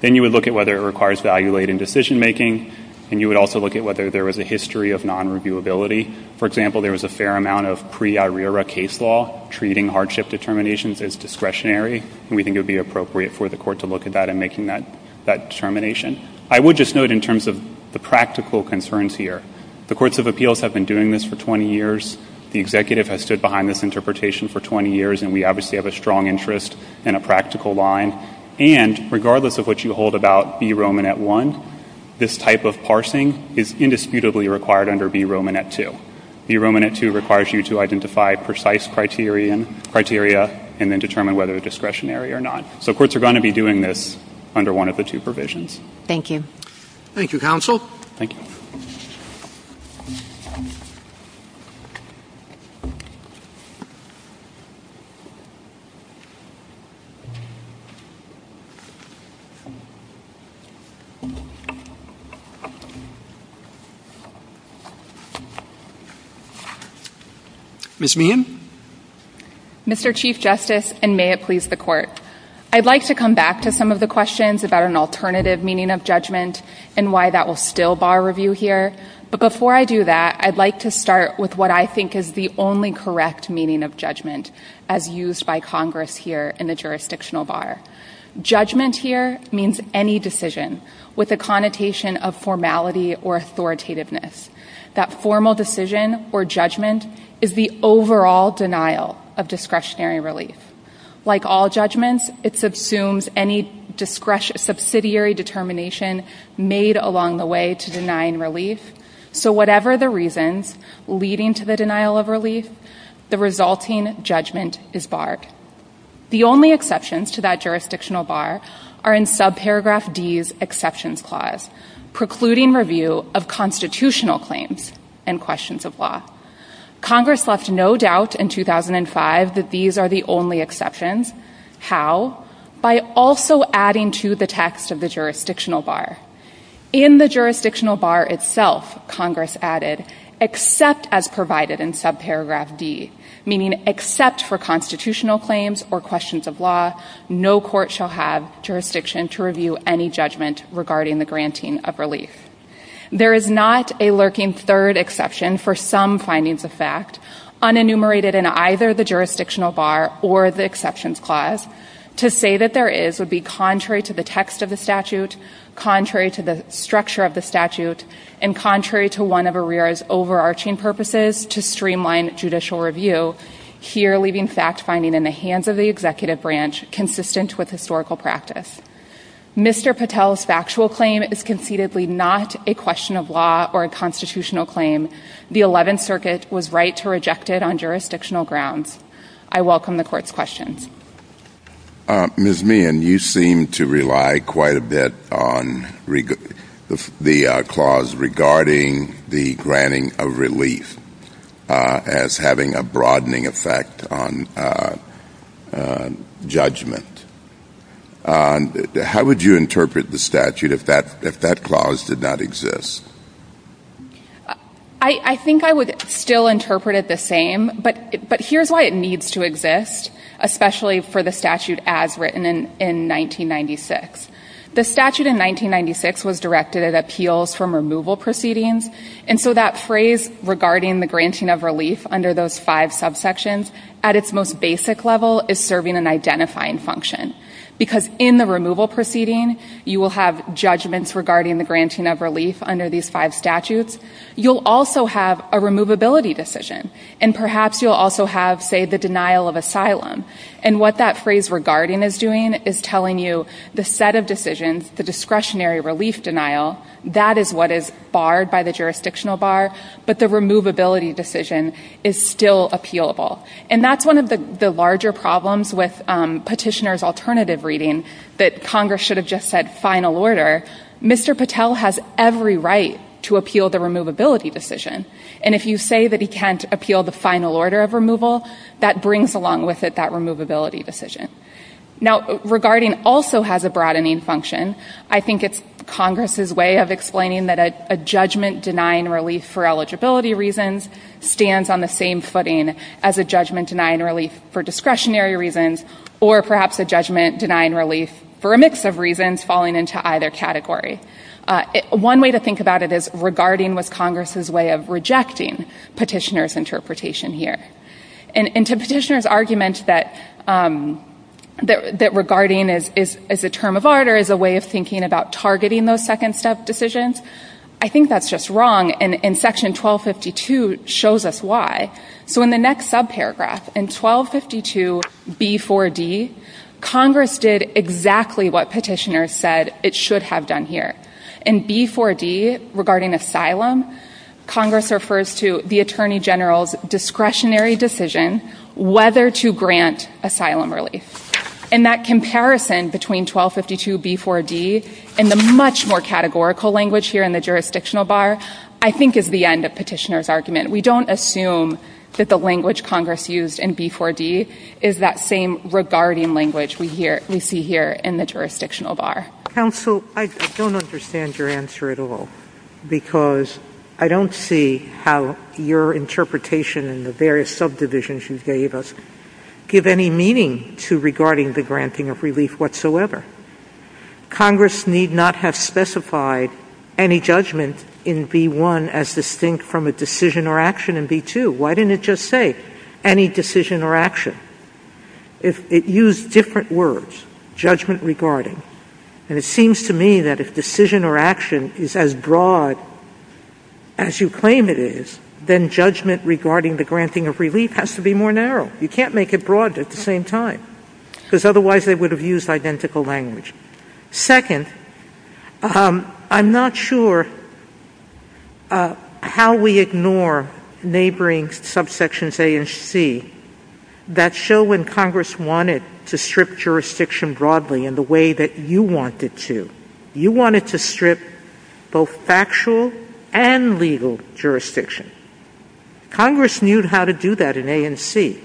Then you would look at whether it requires value-laden decision-making, and you would also look at whether there was a history of non-reviewability. For example, there was a fair amount of pre-Irira case law treating hardship determinations as discretionary, and we think it would be appropriate for the court to look at that in making that determination. I would just note in terms of the practical concerns here, the Courts of Appeals have been doing this for 20 years. The Executive has stood behind this interpretation for 20 years, and we obviously have a strong interest and a practical line. And regardless of what you hold about B Romanet I, this type of parsing is indisputably required under B Romanet II. B Romanet II requires you to identify precise criteria and then determine whether it's discretionary or not. So courts are going to be doing this under one of the two provisions. Thank you. Thank you, Counsel. Thank you. Ms. Meehan. Mr. Chief Justice, and may it please the Court, I'd like to come back to some of the questions about an alternative meaning of judgment and why that will still bar review here. But before I do that, I'd like to start with what I think is the only correct meaning of judgment as used by Congress here in the jurisdictional bar. Judgment here means any decision with a connotation of formality or authoritativeness. That formal decision or judgment is the overall denial of discretionary release. Like all judgments, it subsumes any subsidiary determination made along the way to denying release, so whatever the reasons leading to the denial of release, the resulting judgment is barred. The only exceptions to that jurisdictional bar are in subparagraph D's exceptions clause, precluding review of constitutional claims and questions of law. Congress left no doubt in 2005 that these are the only exceptions. How? By also adding to the text of the jurisdictional bar. In the jurisdictional bar itself, Congress added, except as provided in subparagraph D, meaning except for constitutional claims or questions of law, no court shall have jurisdiction to review any judgment regarding the granting of release. There is not a lurking third exception for some findings of fact unenumerated in either the jurisdictional bar or the exceptions clause. To say that there is would be contrary to the text of the statute, contrary to the structure of the statute, and contrary to one of ARERA's overarching purposes to streamline judicial review, here leaving fact finding in the hands of the executive branch consistent with historical practice. Mr. Patel's factual claim is concededly not a question of law or a constitutional claim. The 11th Circuit was right to reject it on jurisdictional grounds. I welcome the court's questions. Ms. Meehan, you seem to rely quite a bit on the clause regarding the granting of release as having a broadening effect on judgment. How would you interpret the statute if that clause did not exist? I think I would still interpret it the same, but here's why it needs to exist, especially for the statute as written in 1996. The statute in 1996 was directed at appeals from removal proceedings, and so that phrase regarding the granting of release under those five subsections at its most basic level is serving an identifying function. Because in the removal proceeding, you will have judgments regarding the granting of release under these five statutes. You'll also have a removability decision, and perhaps you'll also have, say, the denial of asylum, and what that phrase regarding is doing is telling you the set of decisions, the discretionary relief denial, that is what is barred by the jurisdictional bar, but the removability decision is still appealable. And that's one of the larger problems with petitioner's alternative reading that Congress should have just said final order. Mr. Patel has every right to appeal the removability decision, and if you say that he can't appeal the final order of removal, that brings along with it that removability decision. Now, regarding also has a broadening function. I think it's Congress's way of explaining that a judgment denying release for eligibility reasons stands on the same footing as a judgment denying release for discretionary reasons, or perhaps a judgment denying release for a mix of reasons falling into either category. One way to think about it is regarding was Congress's way of rejecting petitioner's interpretation here. And to petitioner's argument that regarding is a term of order, is a way of thinking about targeting those second step decisions, I think that's just wrong. And section 1252 shows us why. So in the next subparagraph, in 1252B4D, Congress did exactly what petitioner said it should have done here. In B4D regarding asylum, Congress refers to the Attorney General's discretionary decision whether to grant asylum release. And that comparison between 1252B4D and the much more categorical language here in the jurisdictional bar, I think is the end of petitioner's argument. We don't assume that the language Congress used in B4D is that same regarding language we hear, we see here in the jurisdictional bar. Council, I don't understand your answer at all, because I don't see how your interpretation in the various subdivisions you gave us give any meaning to regarding the granting of relief whatsoever. Congress need not have specified any judgment in B1 as distinct from a decision or action in B2. Why didn't it just say, any decision or action? It used different words, judgment regarding. And it seems to me that if decision or action is as broad as you claim it is, then judgment regarding the granting of relief has to be more narrow. You can't make it broad at the same time. Because otherwise it would have used identical language. Second, I'm not sure how we ignore neighboring subsections A and C that show when Congress wanted to strip jurisdiction broadly in the way that you wanted to. You wanted to strip both factual and legal jurisdiction. Congress knew how to do that in A and C.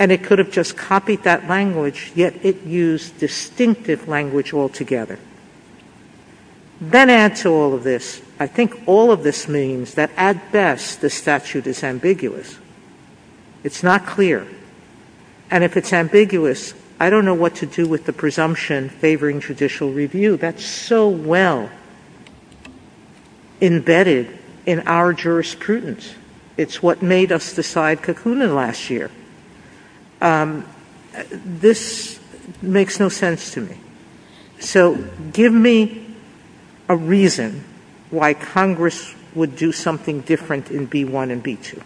And it could have just copied that language, yet it used distinctive language altogether. That adds to all of this. I think all of this means that at best the statute is ambiguous. It's not clear. And if it's ambiguous, I don't know what to do with the presumption favoring judicial review. That's so well embedded in our jurisprudence. It's what made us decide Cucullin last year. This makes no sense to me. So give me a reason why Congress would do something different in B1 and B2.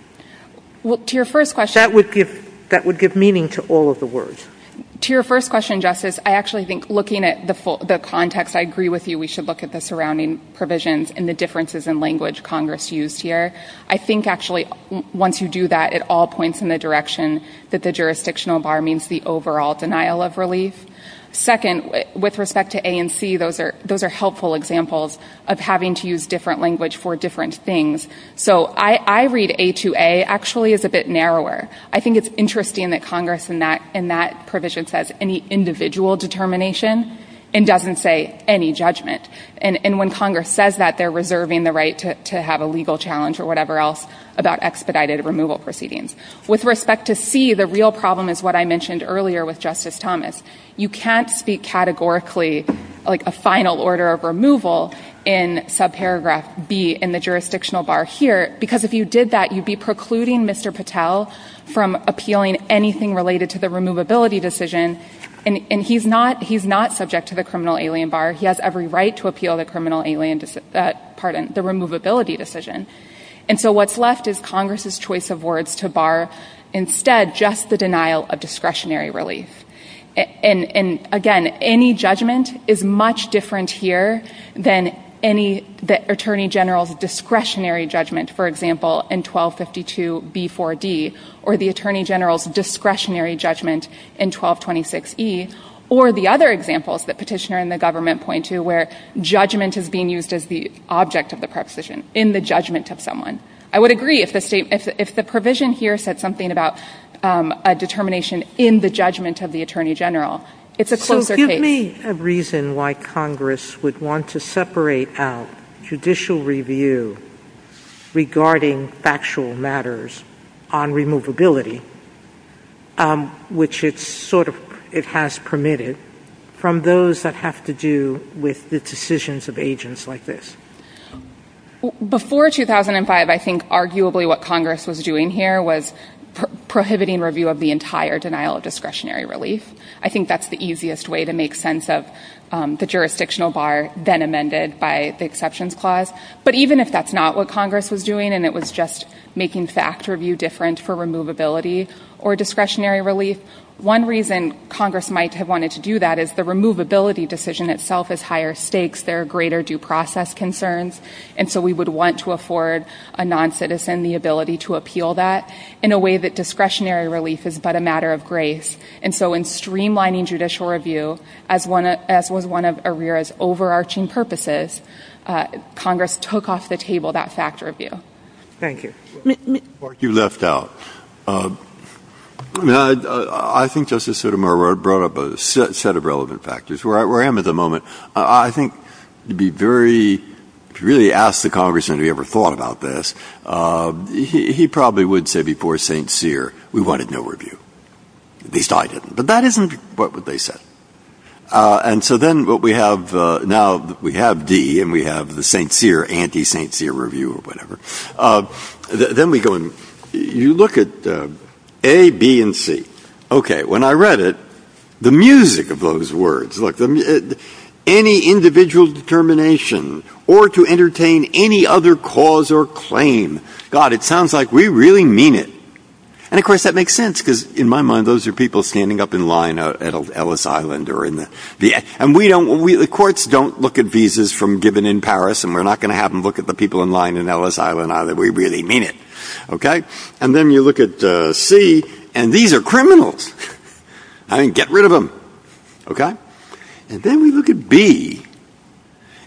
That would give meaning to all of the words. To your first question, Justice, I actually think looking at the context, I agree with you. We should look at the surrounding provisions and the differences in language Congress used here. I think actually once you do that, it all points in the direction that the jurisdictional bar means the overall denial of release. Second, with respect to A and C, those are helpful examples of having to use different language for different things. So I read A2A actually as a bit narrower. I think it's interesting that Congress in that provision says any individual determination and doesn't say any judgment. And when Congress says that, they're reserving the right to have a legal challenge or whatever else about expedited removal proceedings. With respect to C, the real problem is what I mentioned earlier with Justice Thomas. You can't speak categorically like a final order of removal in subparagraph B in the jurisdictional bar here because if you did that, you'd be precluding Mr. Patel from appealing anything related to the removability decision. And he's not subject to the criminal alien bar. He has every right to appeal the criminal alien, pardon, the removability decision. And so what's left is Congress' choice of words to bar instead just the denial of discretionary release. And again, any judgment is much different here than any, the Attorney General's discretionary judgment, for example, in 1252B4D or the Attorney General's discretionary judgment in 1226E or the other examples that petitioner and the government point to where judgment is being used as the object of the preposition, in the judgment of someone. I would agree if the provision here said something about a determination in the judgment of the Attorney General. It's a closer case. So give me a reason why Congress would want to separate out judicial review regarding factual matters on removability, which it's sort of has permitted, from those that have to do with the decisions of agents like this. Before 2005, I think arguably what Congress was doing here was prohibiting review of the entire denial of discretionary release. I think that's the easiest way to make sense of the jurisdictional bar then amended by the exceptions clause. But even if that's not what Congress was doing and it was just making fact review different for removability or discretionary release, one reason Congress might have wanted to do that is the removability decision itself has higher stakes. There are greater due process concerns. And so we would want to afford a non-citizen the ability to appeal that in a way that discretionary release is but a matter of grace. And so in streamlining judicial review, as was one of ARERA's overarching purposes, Congress took off the table that fact review. Thank you. You left out. I think Justice Sotomayor brought up a set of relevant factors. Where I am at the moment, I think to be very, to really ask the congressman if he ever thought about this, he probably would say before St. Cyr, we wanted no review. At least I didn't. But that isn't what they said. And so then what we have now, we have D and we have the St. Cyr, anti-St. Cyr review or whatever. Then we go and you look at A, B, and C. Okay, when I read it, the music of those words. Look, any individual determination or to entertain any other cause or claim. God, it sounds like we really mean it. And of course, that makes sense because in my mind, those are people standing up in line at Ellis Island or in the, and we don't, the courts don't look at visas from given in Paris and we're not going to have them look at the people in line in Ellis Island either, we really mean it. Okay? And then you look at C, and these are criminals. I mean, get rid of them. Okay? And then we look at B,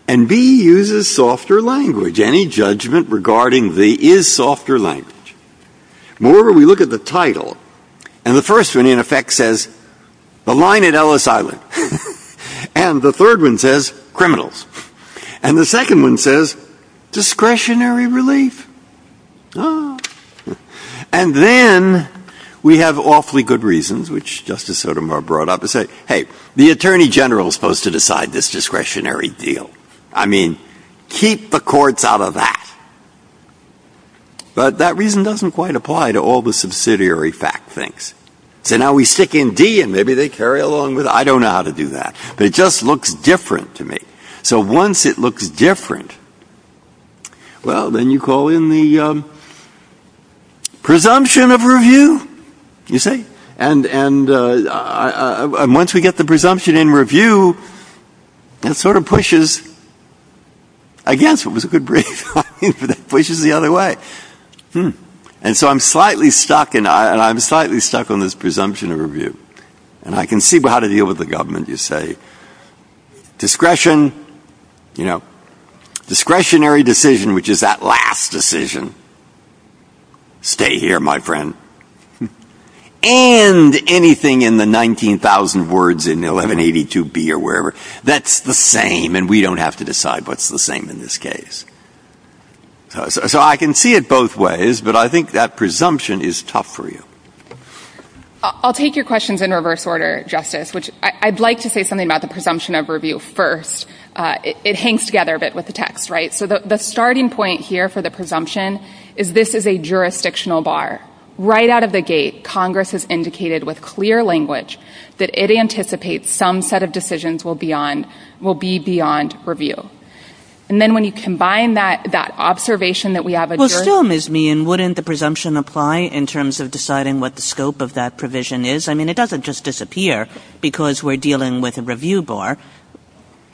and B uses softer language. Any judgment regarding B is softer language. Moreover, we look at the title, and the first one, in effect, says, the line at Ellis Island. And the third one says, criminals. And the second one says, discretionary relief. And then we have awfully good reasons, which Justice Sotomayor brought up, to say, hey, the Attorney General is supposed to decide this discretionary deal. I mean, keep the courts out of that. But that reason doesn't quite apply to all the subsidiary fact things. So now we stick in D, and maybe they carry along with, I don't know how to do that. It just looks different to me. So once it looks different, well, then you call in the presumption of review, you see? And once we get the presumption in review, it sort of pushes against what was a good brief. I mean, it pushes the other way. And so I'm slightly stuck, and I'm slightly stuck on this presumption of review. And I can see how to deal with the government, you say. Discretion, you know, discretionary decision, which is that last decision. Stay here, my friend. And anything in the 19,000 words in the 1182B or wherever, that's the same, and we don't have to decide what's the same in this case. So I can see it both ways, but I think that presumption is tough for you. I'll take your questions in reverse order, Justice, which I'd like to say something about the presumption of review first. It hangs together a bit with the text, right? So the starting point here for the presumption is this is a jurisdictional bar. Right out of the gate, Congress has indicated with clear language that it anticipates some set of decisions will be beyond review. And then when you combine that observation that we have a jurisdiction. So, Ms. Meehan, wouldn't the presumption apply in terms of deciding what the scope of that provision is? I mean, it doesn't just disappear because we're dealing with a review bar.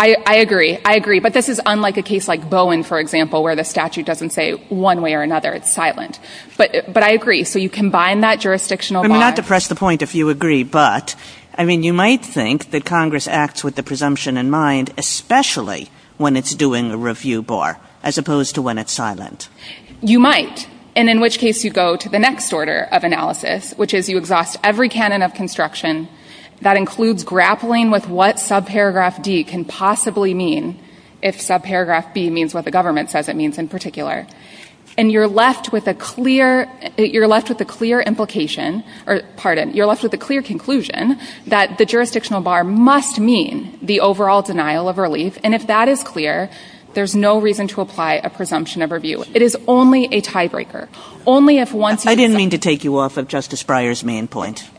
I agree. I agree. But this is unlike a case like Bowen, for example, where the statute doesn't say one way or another. It's silent. But I agree. So you combine that jurisdictional bar. Not to press the point if you agree, but, I mean, you might think that Congress acts with the presumption in mind, especially when it's doing a review bar, as opposed to when it's silent. You might, and in which case you go to the next order of analysis, which is you exhaust every canon of construction that includes grappling with what subparagraph D can possibly mean, if subparagraph B means what the government says it means in particular. And you're left with a clear implication, or, pardon, you're left with a clear conclusion that the jurisdictional bar must mean the overall denial of relief. And if that is clear, there's no reason to apply a presumption of review. It is only a tiebreaker. Only if once. I didn't mean to take you off of Justice Breyer's main point.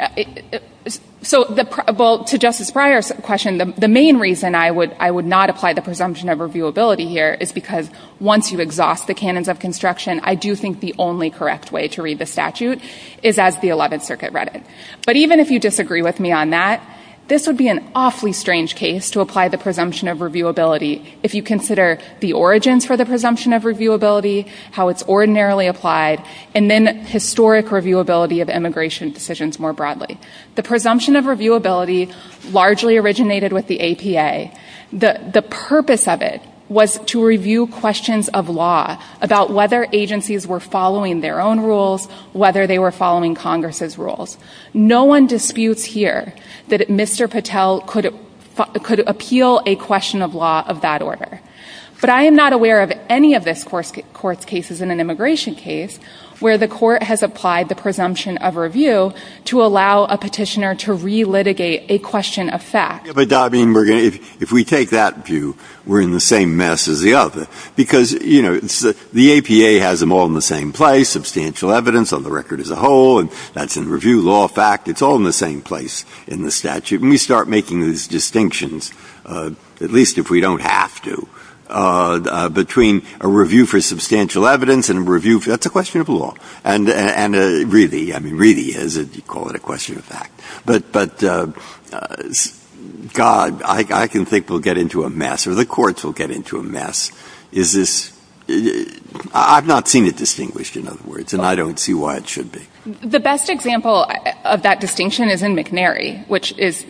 So the, well, to Justice Breyer's question, the main reason I would not apply the presumption of reviewability here is because once you exhaust the canons of construction, I do think the only correct way to read the statute is as the 11th Circuit read it. But even if you disagree with me on that, this would be an awfully strange case to apply the presumption of reviewability if you consider the origins for the presumption of reviewability, how it's ordinarily applied, and then historic reviewability of immigration decisions more broadly. The presumption of reviewability largely originated with the APA. The purpose of it was to review questions of law about whether agencies were following their own rules, whether they were following Congress's rules. No one disputes here that Mr. Patel could appeal a question of law of that order. But I am not aware of any of this court's cases in an immigration case where the court has applied the presumption of review to allow a petitioner to re-litigate a question of fact. But, I mean, if we take that view, we're in the same mess as the other. Because, you know, the APA has them all in the same place, substantial evidence on the record as a whole, and that's in review law fact. It's all in the same place in the statute. And we start making these distinctions, at least if we don't have to. Between a review for substantial evidence and a review for, that's a question of law. And really, I mean, really is a, you call it a question of fact. But, God, I can think we'll get into a mess, or the courts will get into a mess. Is this, I've not seen it distinguished, in other words, and I don't see why it should be. The best example of that distinction is in McNary, which is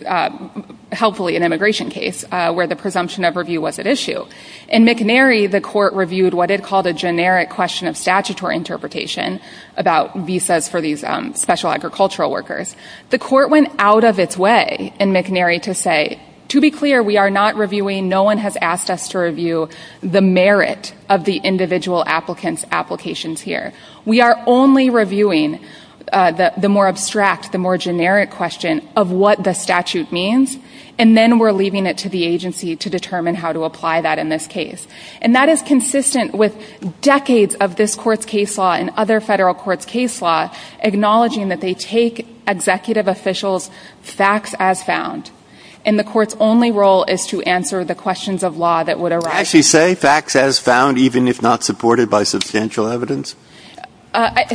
helpfully an immigration case where the presumption of review was at issue. In McNary, the court reviewed what it called a generic question of statutory interpretation about visas for these special agricultural workers. The court went out of its way in McNary to say, to be clear, we are not reviewing, no one has asked us to review the merit of the individual applicant's applications here. We are only reviewing the more abstract, the more generic question of what the statute means. And then we're leaving it to the agency to determine how to apply that in this case. And that is consistent with decades of this court's case law and other federal courts' case law acknowledging that they take executive officials' facts as found. And the court's only role is to answer the questions of law that would arise. Did she say facts as found, even if not supported by substantial evidence?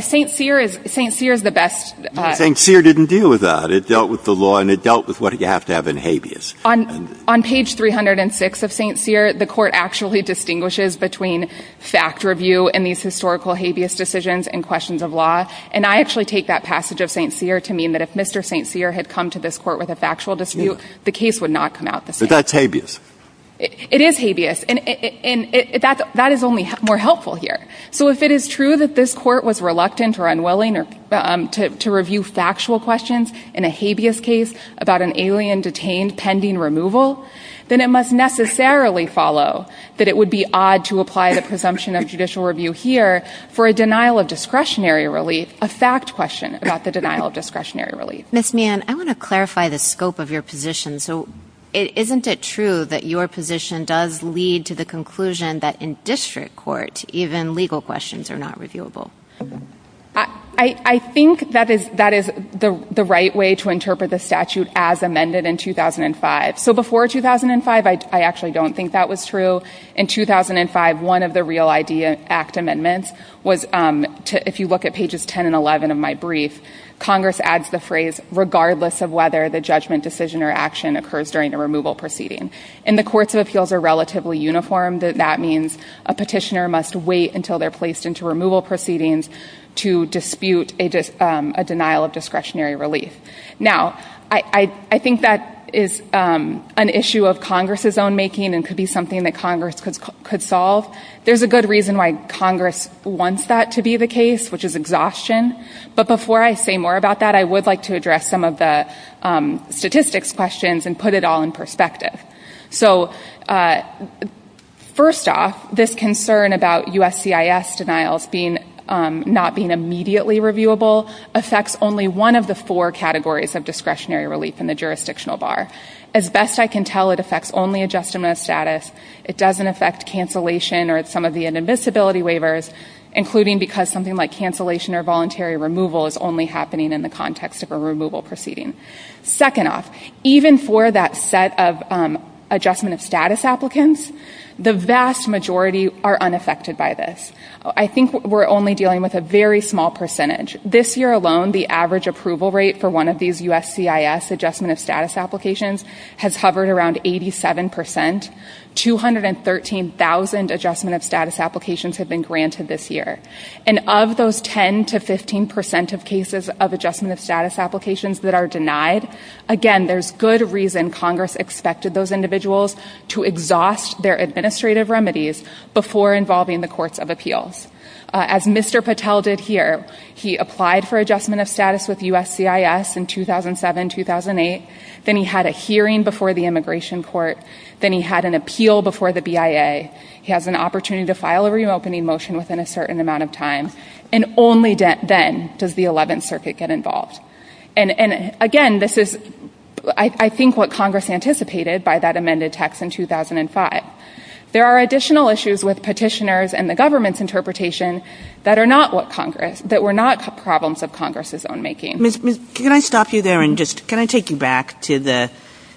St. Cyr is, St. Cyr is the best. St. Cyr didn't deal with that. It dealt with the law, and it dealt with what you have to have in habeas. On page 306 of St. Cyr, the court actually distinguishes between fact review and these historical habeas decisions and questions of law. And I actually take that passage of St. Cyr to mean that if Mr. St. Cyr had come to this court with a factual dispute, the case would not come out the same. But that's habeas. It is habeas, and that is only more helpful here. So if it is true that this court was reluctant or unwilling to review factual questions in a habeas case about an alien detained pending removal, then it must necessarily follow that it would be odd to apply the presumption of judicial review here for a denial of discretionary relief, a fact question about the denial of discretionary relief. Ms. Meehan, I want to clarify the scope of your position. So isn't it true that your position does lead to the conclusion that in district court even legal questions are not reviewable? I think that is the right way to interpret the statute as amended in 2005. So before 2005, I actually don't think that was true. In 2005, one of the Real ID Act amendments was, if you look at pages 10 and 11 of my brief, Congress adds the phrase, regardless of whether the judgment, decision, or action occurs during a removal proceeding. And the courts of appeals are relatively uniform. That means a petitioner must wait until they're placed into removal proceedings to dispute a denial of discretionary relief. Now, I think that is an issue of Congress's own making and could be something that Congress could solve. There's a good reason why Congress wants that to be the case, which is exhaustion. But before I say more about that, I would like to address some of the statistics questions and put it all in perspective. So first off, this concern about USCIS denials not being immediately reviewable affects only one of the four categories of discretionary relief in the jurisdictional bar. As best I can tell, it affects only adjustment of status, it doesn't affect cancellation or some of the inadmissibility waivers, including because something like cancellation or voluntary removal is only happening in the context of a removal proceeding. Second off, even for that set of adjustment of status applicants, the vast majority are unaffected by this. I think we're only dealing with a very small percentage. This year alone, the average approval rate for one of these USCIS adjustment of status applications has hovered around 87%. 213,000 adjustment of status applications have been granted this year. And of those 10 to 15% of cases of adjustment of status applications that are denied, again, there's good reason Congress expected those individuals to exhaust their administrative remedies before involving the courts of appeals. As Mr. Patel did here, he applied for adjustment of status with USCIS in 2007, 2008, then he had a hearing before the Immigration Court, then he had an appeal before the BIA. He has an opportunity to file a reopening motion within a certain amount of time, and only then does the 11th Circuit get involved. And again, this is, I think, what Congress anticipated by that amended text in 2005. There are additional issues with petitioners and the government's interpretation that are not what Congress, that were not problems of Congress's own making. Ms. Smith, can I stop you there and just, can I take you back to the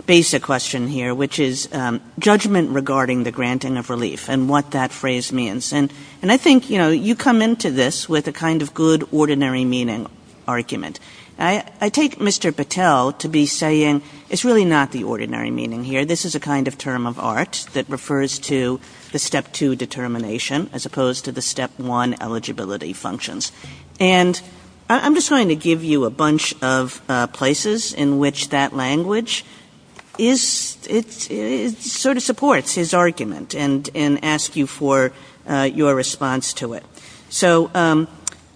basic question here, which is judgment regarding the granting of relief and what that phrase means. And I think, you know, you come into this with a kind of good ordinary meaning argument. I take Mr. Patel to be saying, it's really not the ordinary meaning here. This is a kind of term of art that refers to the step two determination as opposed to the step one eligibility functions. And I'm just going to give you a bunch of places in which that language is, it sort of supports his argument and ask you for your response to it. So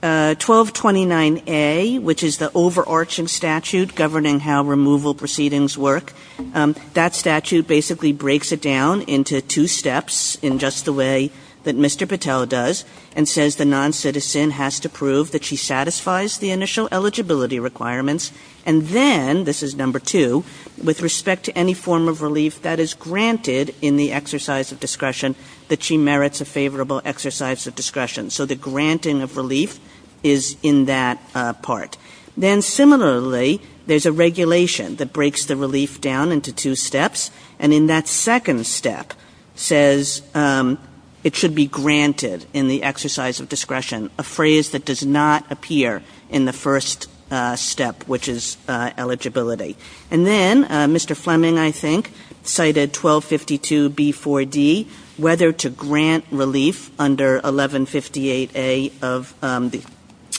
1229A, which is the overarching statute governing how removal proceedings work, that statute basically breaks it down into two steps in just the way that Mr. Patel does and says the non-citizen has to prove that she satisfies the initial eligibility requirements. And then, this is number two, with respect to any form of relief that is granted in the exercise of discretion that she merits a favorable exercise of discretion. So the granting of relief is in that part. Then similarly, there's a regulation that breaks the relief down into two steps. And in that second step says it should be granted in the exercise of discretion, a phrase that does not appear in the first step, which is eligibility. And then, Mr. Fleming, I think, cited 1252B4D, whether to grant relief under 1158A of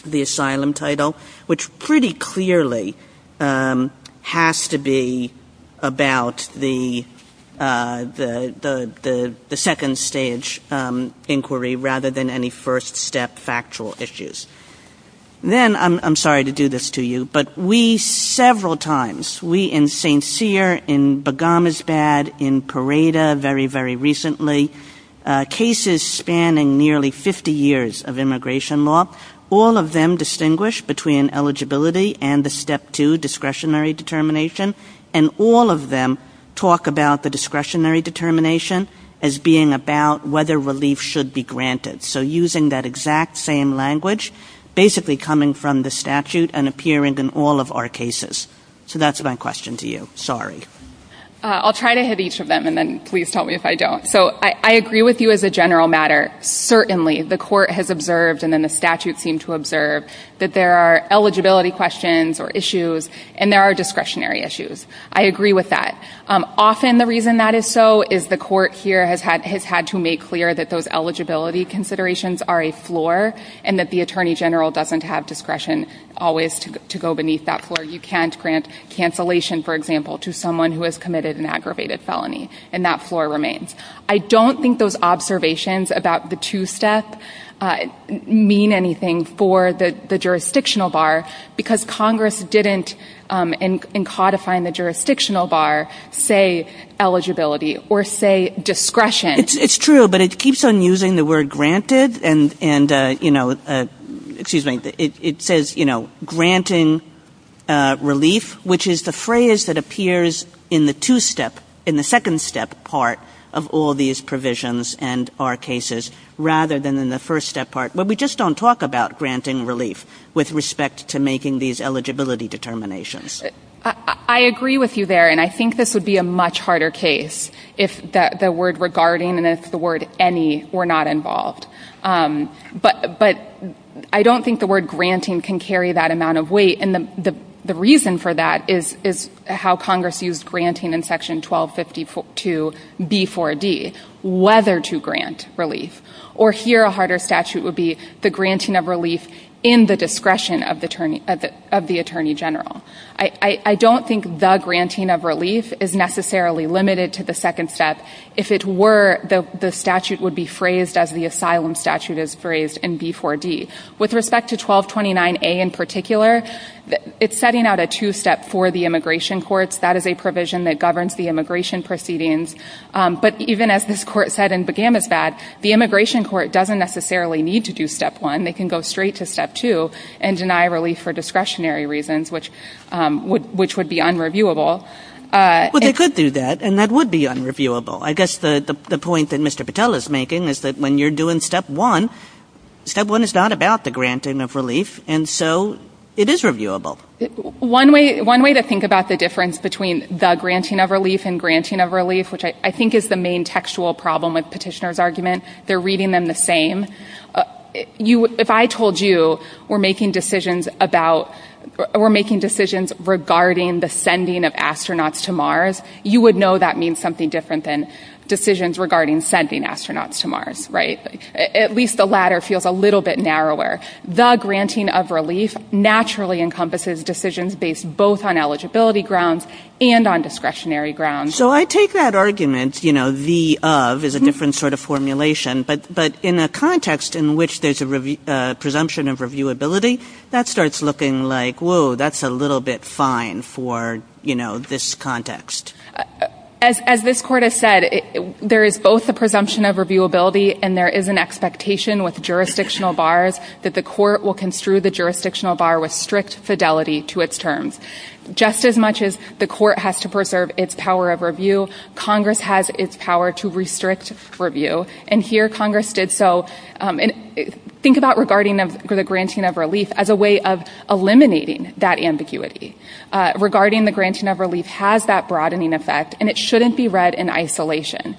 the asylum title, which pretty clearly has to be about the second stage inquiry rather than any first step factual issues. Then, I'm sorry to do this to you, but we several times, we in St. Cyr, in Bogomolsk-on-Don, in Pareda, very, very recently, cases spanning nearly 50 years of immigration law, all of them distinguish between eligibility and the step two discretionary determination. And all of them talk about the discretionary determination as being about whether relief should be granted. So using that exact same language, basically coming from the statute and appearing in all of our cases. So that's my question to you. Sorry. I'll try to hit each of them and then please tell me if I don't. So I agree with you as a general matter. Certainly, the court has observed and then the statute seemed to observe that there are eligibility questions or issues and there are discretionary issues. I agree with that. Often, the reason that is so is the court here has had to make clear that those eligibility considerations are a floor and that the attorney general doesn't have discretion always to go beneath that floor. You can't grant cancellation, for example, to someone who has committed an aggravated felony and that floor remains. I don't think those observations about the two-step mean anything for the jurisdictional bar because Congress didn't, in codifying the jurisdictional bar, say eligibility or say discretion. It's true, but it keeps on using the word granted and, you know, excuse me, it says, you know, granting relief, which is the phrase that appears in the two-step, in the second-step part of all these provisions and our cases rather than in the first-step part where we just don't talk about granting relief with respect to making these eligibility determinations. I agree with you there and I think this would be a much harder case if the word regarding and if the word any were not involved. But I don't think the word granting can carry that amount of weight and the reason for that is how Congress used granting in section 1252B4D, whether to grant relief. Or here a harder statute would be the granting of relief in the discretion of the attorney general. I don't think the granting of relief is necessarily limited to the second-step. If it were, the statute would be phrased as the asylum statute is phrased in B4D. With respect to 1229A in particular, it's setting out a two-step for the immigration courts. That is a provision that governs the immigration proceedings. But even as this court said in Begamofad, the immigration court doesn't necessarily need to do step one. They can go straight to step two and deny relief for discretionary reasons, which would be unreviewable. But they could do that and that would be unreviewable. I guess the point that Mr. Patel is making is that when you're doing step one, step one is not about the granting of relief and so it is reviewable. One way to think about the difference between the granting of relief and granting of relief, which I think is the main textual problem with petitioner's argument, they're reading them the same. If I told you we're making decisions about or we're making decisions regarding the sending of astronauts to Mars, you would know that means something different than decisions regarding sending astronauts to Mars, right? At least the latter feels a little bit narrower. The granting of relief naturally encompasses decisions based both on eligibility grounds and on discretionary grounds. So I take that argument, you know, the of is a different sort of formulation. But in a context in which there's a presumption of reviewability, that starts looking like, whoa, that's a little bit fine for, you know, this context. As this court has said, there is both a presumption of reviewability and there is an expectation with jurisdictional bars that the court will construe the jurisdictional bar with strict fidelity to its terms. Just as much as the court has to preserve its power of review, Congress has its power to restrict review. And here Congress did so and think about regarding the granting of relief as a way of eliminating that ambiguity. Regarding the granting of relief has that broadening effect and it shouldn't be read in isolation.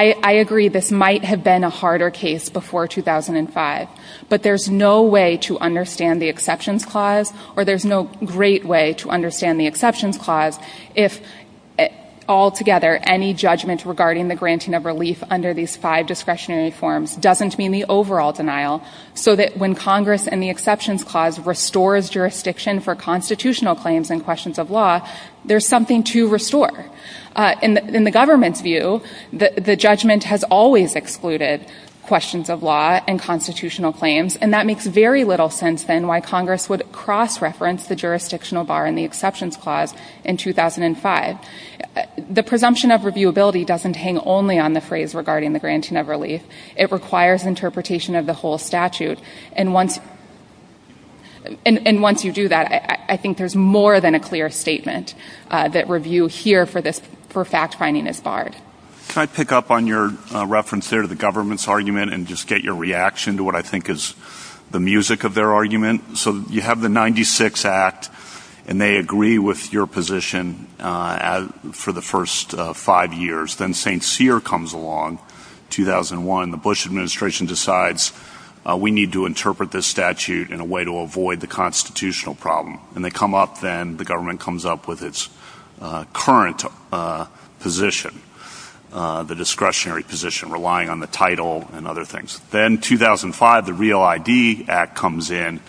I agree this might have been a harder case before 2005. But there's no way to understand the exceptions clause or there's no great way to understand the exceptions clause if altogether any judgment regarding the granting of relief under these five discretionary forms doesn't mean the overall denial. So that when Congress and the exceptions clause restores jurisdiction for constitutional claims and questions of law, there's something to restore. In the government's view, the judgment has always excluded questions of law and constitutional claims and that makes very little sense than why Congress would cross-reference the jurisdictional bar and the exceptions clause in 2005. The presumption of reviewability doesn't hang only on the phrase regarding the granting of relief. It requires interpretation of the whole statute. And once you do that, I think there's more than a clear statement that review here for fact-finding is barred. Can I pick up on your reference there to the government's argument and just get your reaction to what I think is the music of their argument? So you have the 96 Act and they agree with your position for the first five years. Then St. Cyr comes along, 2001. The Bush administration decides we need to interpret this statute in a way to avoid the constitutional problem. And they come up then, the government comes up with its current position, the discretionary position relying on the title and other things. Then 2005, the Real ID Act comes in,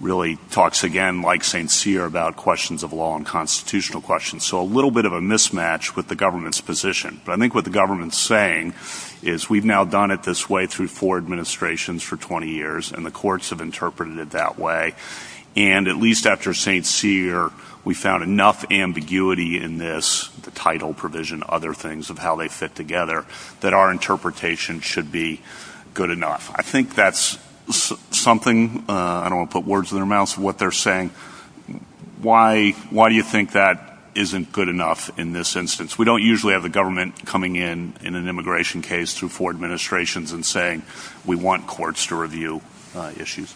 really talks again like St. Cyr about questions of law and constitutional questions. So a little bit of a mismatch with the government's position. But I think what the government's saying is we've now done it this way through four administrations for 20 years and the courts have interpreted it that way. And at least after St. Cyr, we found enough ambiguity in this, the title provision, other things of how they fit together, that our interpretation should be good enough. I think that's something, I don't want to put words in their mouths, what they're saying. Why do you think that isn't good enough in this instance? We don't usually have the government coming in in an immigration case through four administrations and saying we want courts to review issues.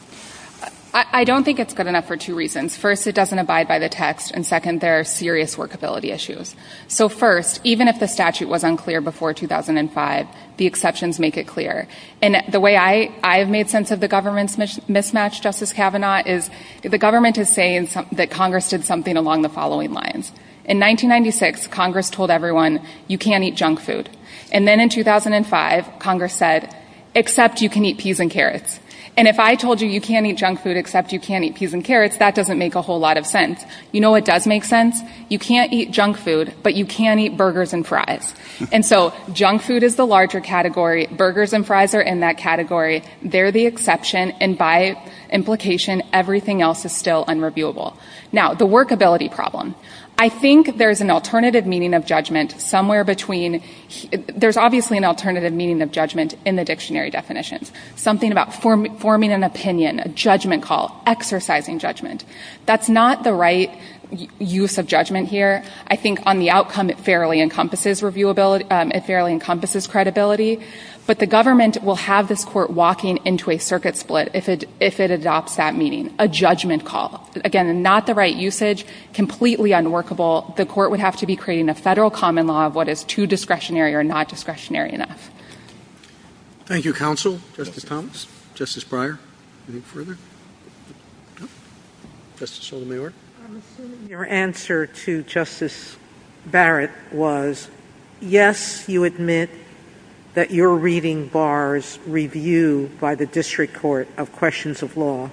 I don't think it's good enough for two reasons. First, it doesn't abide by the text. And second, there are serious workability issues. So first, even if the statute was unclear before 2005, the exceptions make it clear. And the way I've made sense of the government's mismatch, Justice Kavanaugh, is the government is saying that Congress did something along the following lines. In 1996, Congress told everyone, you can't eat junk food. And then in 2005, Congress said, except you can eat peas and carrots. And if I told you you can't eat junk food except you can't eat peas and carrots, that doesn't make a whole lot of sense. You know what does make sense? You can't eat junk food, but you can eat burgers and fries. And so junk food is the larger category, burgers and fries are in that category. They're the exception and by implication, everything else is still unreviewable. Now, the workability problem. I think there's an alternative meaning of judgment somewhere between, there's obviously an alternative meaning of judgment in the dictionary definitions. Something about forming an opinion, a judgment call, exercising judgment. That's not the right use of judgment here. I think on the outcome, it fairly encompasses credibility. But the government will have this court walking into a circuit split if it adopts that meaning, a judgment call. Again, not the right usage, completely unworkable. The court would have to be creating a federal common law of what is too discretionary or not discretionary enough. Thank you, counsel. Justice Thomas, Justice Breyer, any further? Justice Sotomayor. Your answer to Justice Barrett was, yes, you admit that you're reading bars reviewed by the district court of questions of law.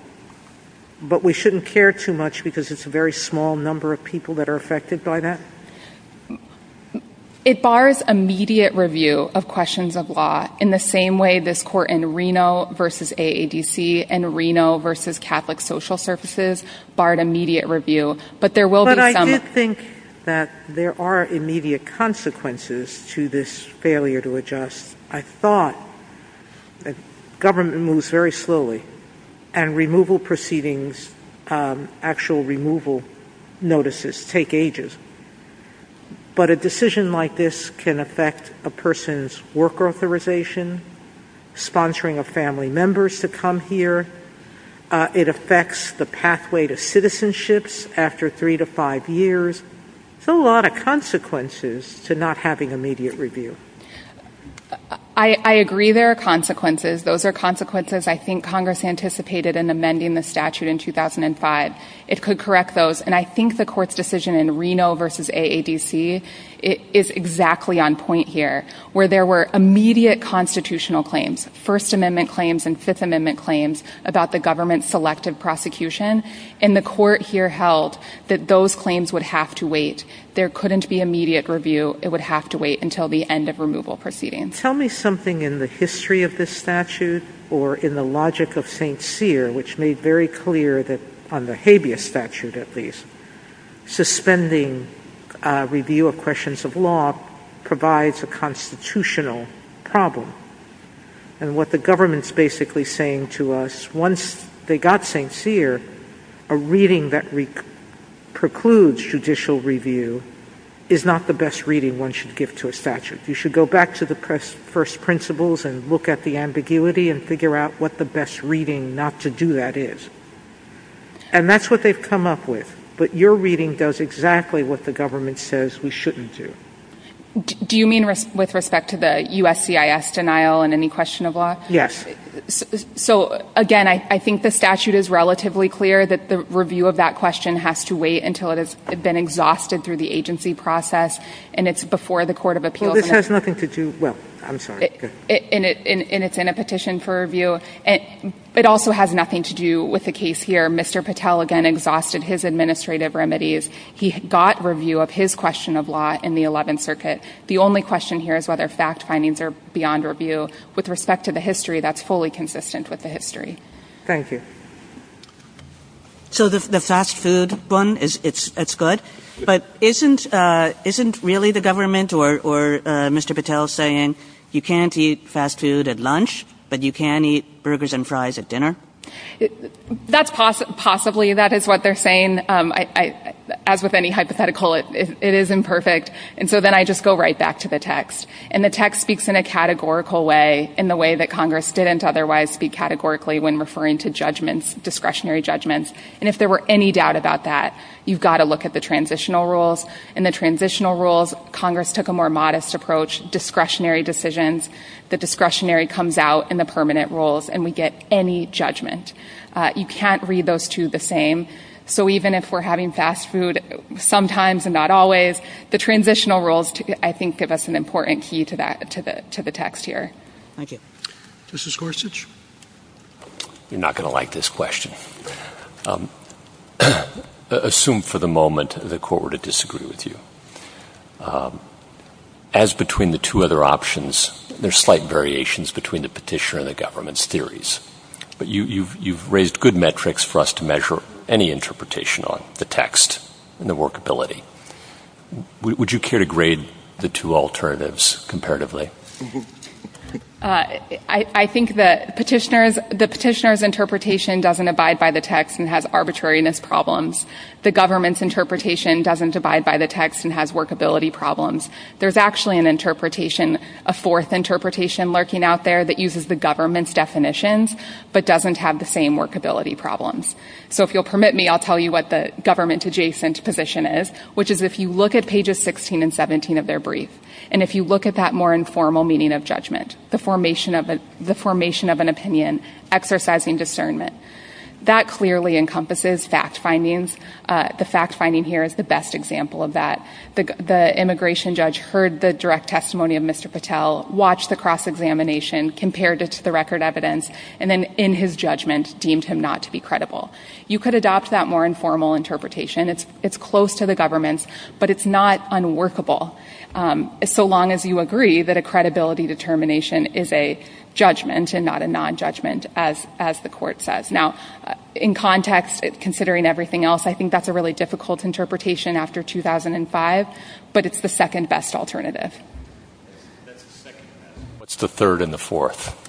But we shouldn't care too much because it's a very small number of people that are affected by that? It bars immediate review of questions of law in the same way this court in Reno versus AADC and Reno versus Catholic Social Services barred immediate review. But there will be some- But I do think that there are immediate consequences to this failure to adjust. I thought the government moves very slowly and removal proceedings, actual removal notices take ages. But a decision like this can affect a person's work authorization, sponsoring of family members to come here. It affects the pathway to citizenships after three to five years. So a lot of consequences to not having immediate review. I agree there are consequences. Those are consequences I think Congress anticipated in amending the statute in 2005. It could correct those. And I think the court's decision in Reno versus AADC is exactly on point here where there were immediate constitutional claims, First Amendment claims and Fifth Amendment claims about the government's selective prosecution. And the court here held that those claims would have to wait. There couldn't be immediate review. It would have to wait until the end of removal proceedings. Tell me something in the history of this statute or in the logic of St. Cyr which made very clear that on the habeas statute at least, suspending review of questions of law provides a constitutional problem. And what the government's basically saying to us, once they got St. Cyr, a reading that precludes judicial review is not the best reading one should give to a statute. You should go back to the first principles and look at the ambiguity and figure out what the best reading not to do that is. And that's what they've come up with. But your reading does exactly what the government says we shouldn't do. Do you mean with respect to the USCIS denial in any question of law? Yes. So again, I think the statute is relatively clear that the review of that question has to wait until it has been exhausted through the agency process. And it's before the Court of Appeals. Well, this has nothing to do, well, I'm sorry. And it's in a petition for review. And it also has nothing to do with the case here. Mr. Patel again exhausted his administrative remedies. He got review of his question of law in the 11th Circuit. The only question here is whether fact findings are beyond review. With respect to the history, that's fully consistent with the history. Thank you. So the fast food one, it's good. But isn't really the government or Mr. Patel saying you can't eat fast food at lunch, but you can eat burgers and fries at dinner? That's possibly that is what they're saying. As with any hypothetical, it is imperfect. And so then I just go right back to the text. And the text speaks in a categorical way in the way that Congress didn't otherwise speak categorically when referring to judgments, discretionary judgments, and if there were any doubt about that, you've got to look at the transitional rules. In the transitional rules, Congress took a more modest approach, discretionary decisions. The discretionary comes out in the permanent rules, and we get any judgment. You can't read those two the same. So even if we're having fast food sometimes and not always, the transitional rules, I think, give us an important key to the text here. Thank you. Mr. Gorsuch? You're not going to like this question. Assume for the moment the court were to disagree with you. As between the two other options, there's slight variations between the petitioner and the government's theories. But you've raised good metrics for us to measure any interpretation on the text and the workability. Would you care to grade the two alternatives comparatively? I think the petitioner's interpretation doesn't abide by the text and has arbitrariness problems. The government's interpretation doesn't abide by the text and has workability problems. There's actually an interpretation, a fourth interpretation lurking out there that uses the government's definitions but doesn't have the same workability problems. So if you'll permit me, I'll tell you what the government adjacent position is. Which is if you look at pages 16 and 17 of their brief and if you look at that more informal meaning of judgment, the formation of an opinion exercising discernment. That clearly encompasses fact findings. The fact finding here is the best example of that. The immigration judge heard the direct testimony of Mr. Patel, watched the cross-examination, compared it to the record evidence, and then in his judgment deemed him not to be credible. You could adopt that more informal interpretation. It's close to the government's, but it's not unworkable so long as you agree that a credibility determination is a judgment and not a non-judgment as the court says. Now, in context, considering everything else, I think that's a really difficult interpretation after 2005. But it's the second best alternative. What's the third and the fourth?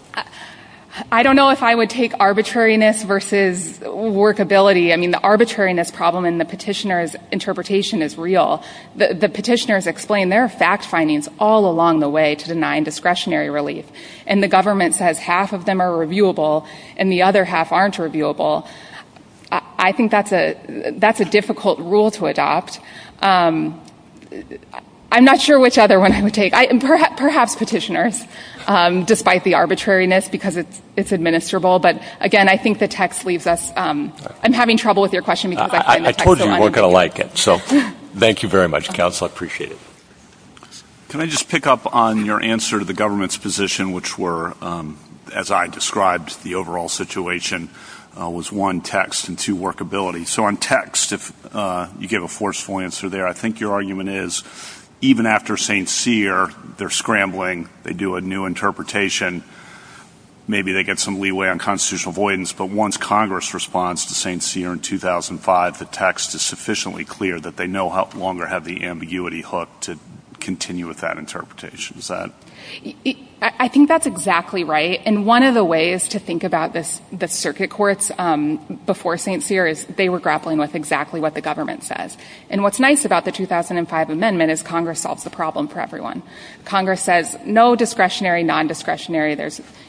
I don't know if I would take arbitrariness versus workability. I mean, the arbitrariness problem in the petitioner's interpretation is real. The petitioners explain their fact findings all along the way to the nondiscretionary relief. And the government says half of them are reviewable and the other half aren't reviewable. I think that's a difficult rule to adopt. I'm not sure which other one I would take. Perhaps petitioners, despite the arbitrariness because it's administrable. But again, I think the text leaves us. I'm having trouble with your question because I've written the text so much. I told you you weren't going to like it. So, thank you very much, counsel. I appreciate it. Can I just pick up on your answer to the government's position, which were, as I described the overall situation, was one, text, and two, workability. So, on text, if you gave a forceful answer there, I think your argument is, even after St. Cyr, they're scrambling. They do a new interpretation. Maybe they get some leeway on constitutional avoidance, but once Congress responds to St. Cyr in 2005, the text is sufficiently clear that they no longer have the ambiguity hook to continue with that interpretation. Is that? I think that's exactly right. And one of the ways to think about the circuit courts before St. Cyr is they were grappling with exactly what the government says. Congress says, no discretionary, non-discretionary,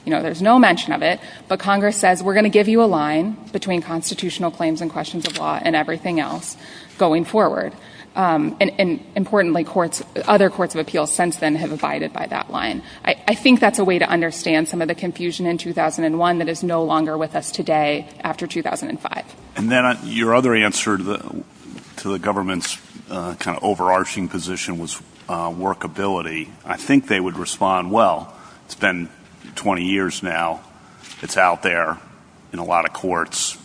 you know, there's no mention of it. But Congress says, we're going to give you a line between constitutional claims and questions of law and everything else going forward. And importantly, courts, other courts of appeals since then have abided by that line. I think that's a way to understand some of the confusion in 2001 that is no longer with us today after 2005. And then your other answer to the government's kind of overarching position was workability. I think they would respond, well, it's been 20 years now. It's out there in a lot of courts.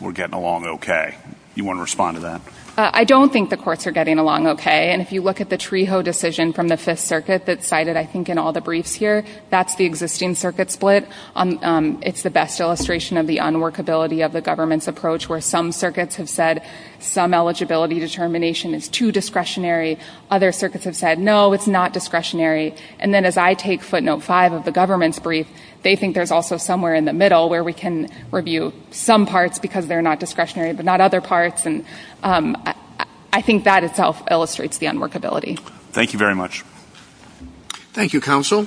We're getting along okay. You want to respond to that? I don't think the courts are getting along okay. And if you look at the Treho decision from the Fifth Circuit that's cited, I think, in all the briefs here, that's the existing circuit split. It's the best illustration of the unworkability of the government's approach where some circuits have said some eligibility determination is too discretionary. Other circuits have said, no, it's not discretionary. And then as I take footnote five of the government's brief, they think there's also somewhere in the middle where we can review some parts because they're not discretionary, but not other parts, and I think that itself illustrates the unworkability. Thank you very much. Thank you, counsel.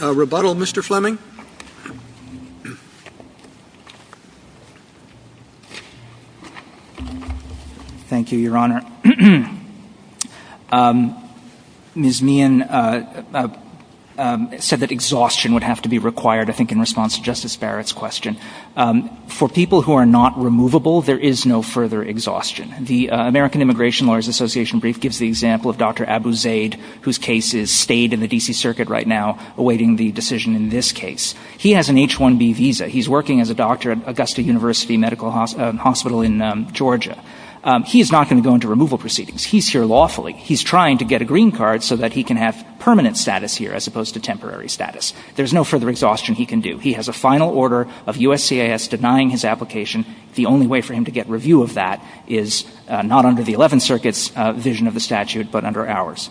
A rebuttal, Mr. Fleming? Thank you, Your Honor. Ms. Meehan said that exhaustion would have to be required, I think, in response to Justice Barrett's question. For people who are not removable, there is no further exhaustion. The American Immigration Lawyers Association brief gives the example of Dr. Abu Zaid, whose case is stayed in the D.C. Circuit right now awaiting the decision in this case. He has an H-1B visa. He's working as a doctor at Augusta University Medical Hospital in Georgia. He is not going to go into removal proceedings. He's here lawfully. He's trying to get a green card so that he can have permanent status here as opposed to temporary status. There's no further exhaustion he can do. He has a final order of USCIS denying his application. The only way for him to get review of that is not under the Eleventh Circuit's vision of the statute, but under ours.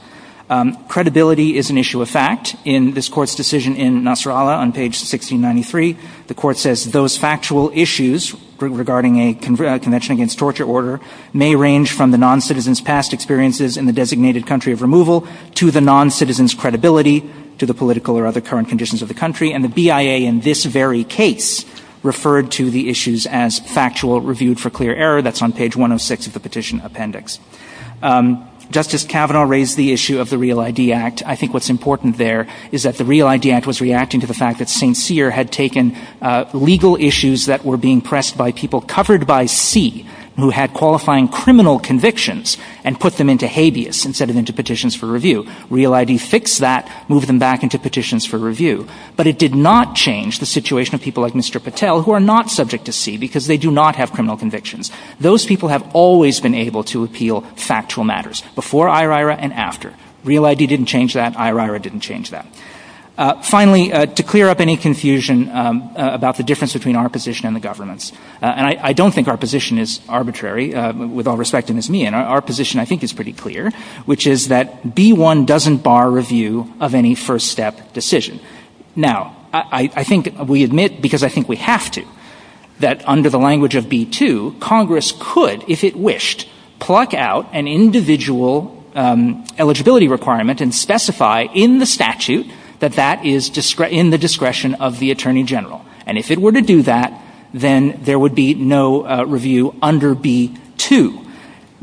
Credibility is an issue of fact. In this court's decision in Nasrallah on page 1693, the court says, those factual issues regarding a Convention Against Torture Order may range from the noncitizen's past experiences in the designated country of removal to the noncitizen's credibility to the political or other current conditions of the country. And the BIA in this very case referred to the issues as factual reviewed for clear error. That's on page 106 of the petition appendix. Justice Kavanaugh raised the issue of the Real ID Act. I think what's important there is that the Real ID Act was reacting to the fact that St. Cyr had taken legal issues that were being pressed by people covered by C who had qualifying criminal convictions and put them into habeas instead of into petitions for review. Real ID fixed that, moved them back into petitions for review. But it did not change the situation of people like Mr. Patel who are not subject to C because they do not have criminal convictions. Those people have always been able to appeal factual matters before IRIRA and after. Real ID didn't change that. IRIRA didn't change that. Finally, to clear up any confusion about the difference between our position and the government's, and I don't think our position is arbitrary, with all respect it is me. And our position I think is pretty clear which is that B1 doesn't bar review of any first step decision. Now, I think we admit because I think we have to that under the language of B2 Congress could, if it wished, pluck out an individual eligibility requirement and specify in the statute that that is in the discretion of the Attorney General. And if it were to do that, then there would be no review under B2.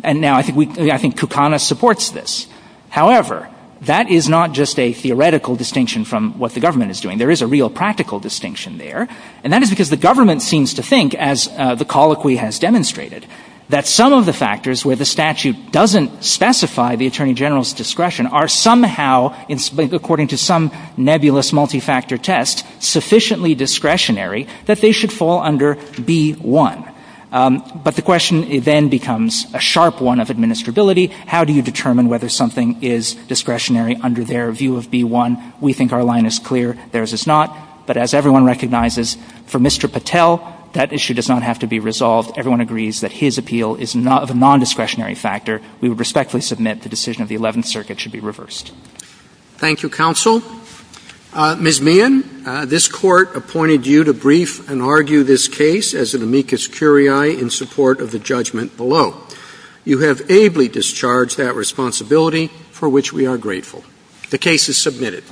And now I think we, I think Kukana supports this. However, that is not just a theoretical distinction from what the government is doing. There is a real practical distinction there. And that is because the government seems to think, as the colloquy has demonstrated, that some of the factors where the statute doesn't specify the Attorney General's discretion are somehow, according to some nebulous multi-factor test, sufficiently discretionary that they should fall under B1. But the question then becomes a sharp one of administrability. How do you determine whether something is discretionary under their view of B1? We think our line is clear. Theirs is not. But as everyone recognizes, for Mr. Patel, that issue does not have to be resolved. Everyone agrees that his appeal is not a non-discretionary factor. We would respectfully submit the decision of the 11th Circuit should be reversed. Thank you, Counsel. Ms. Meehan, this Court appointed you to brief and argue this case as an amicus curiae in support of the judgment below. You have ably discharged that responsibility for which we are grateful. The case is submitted.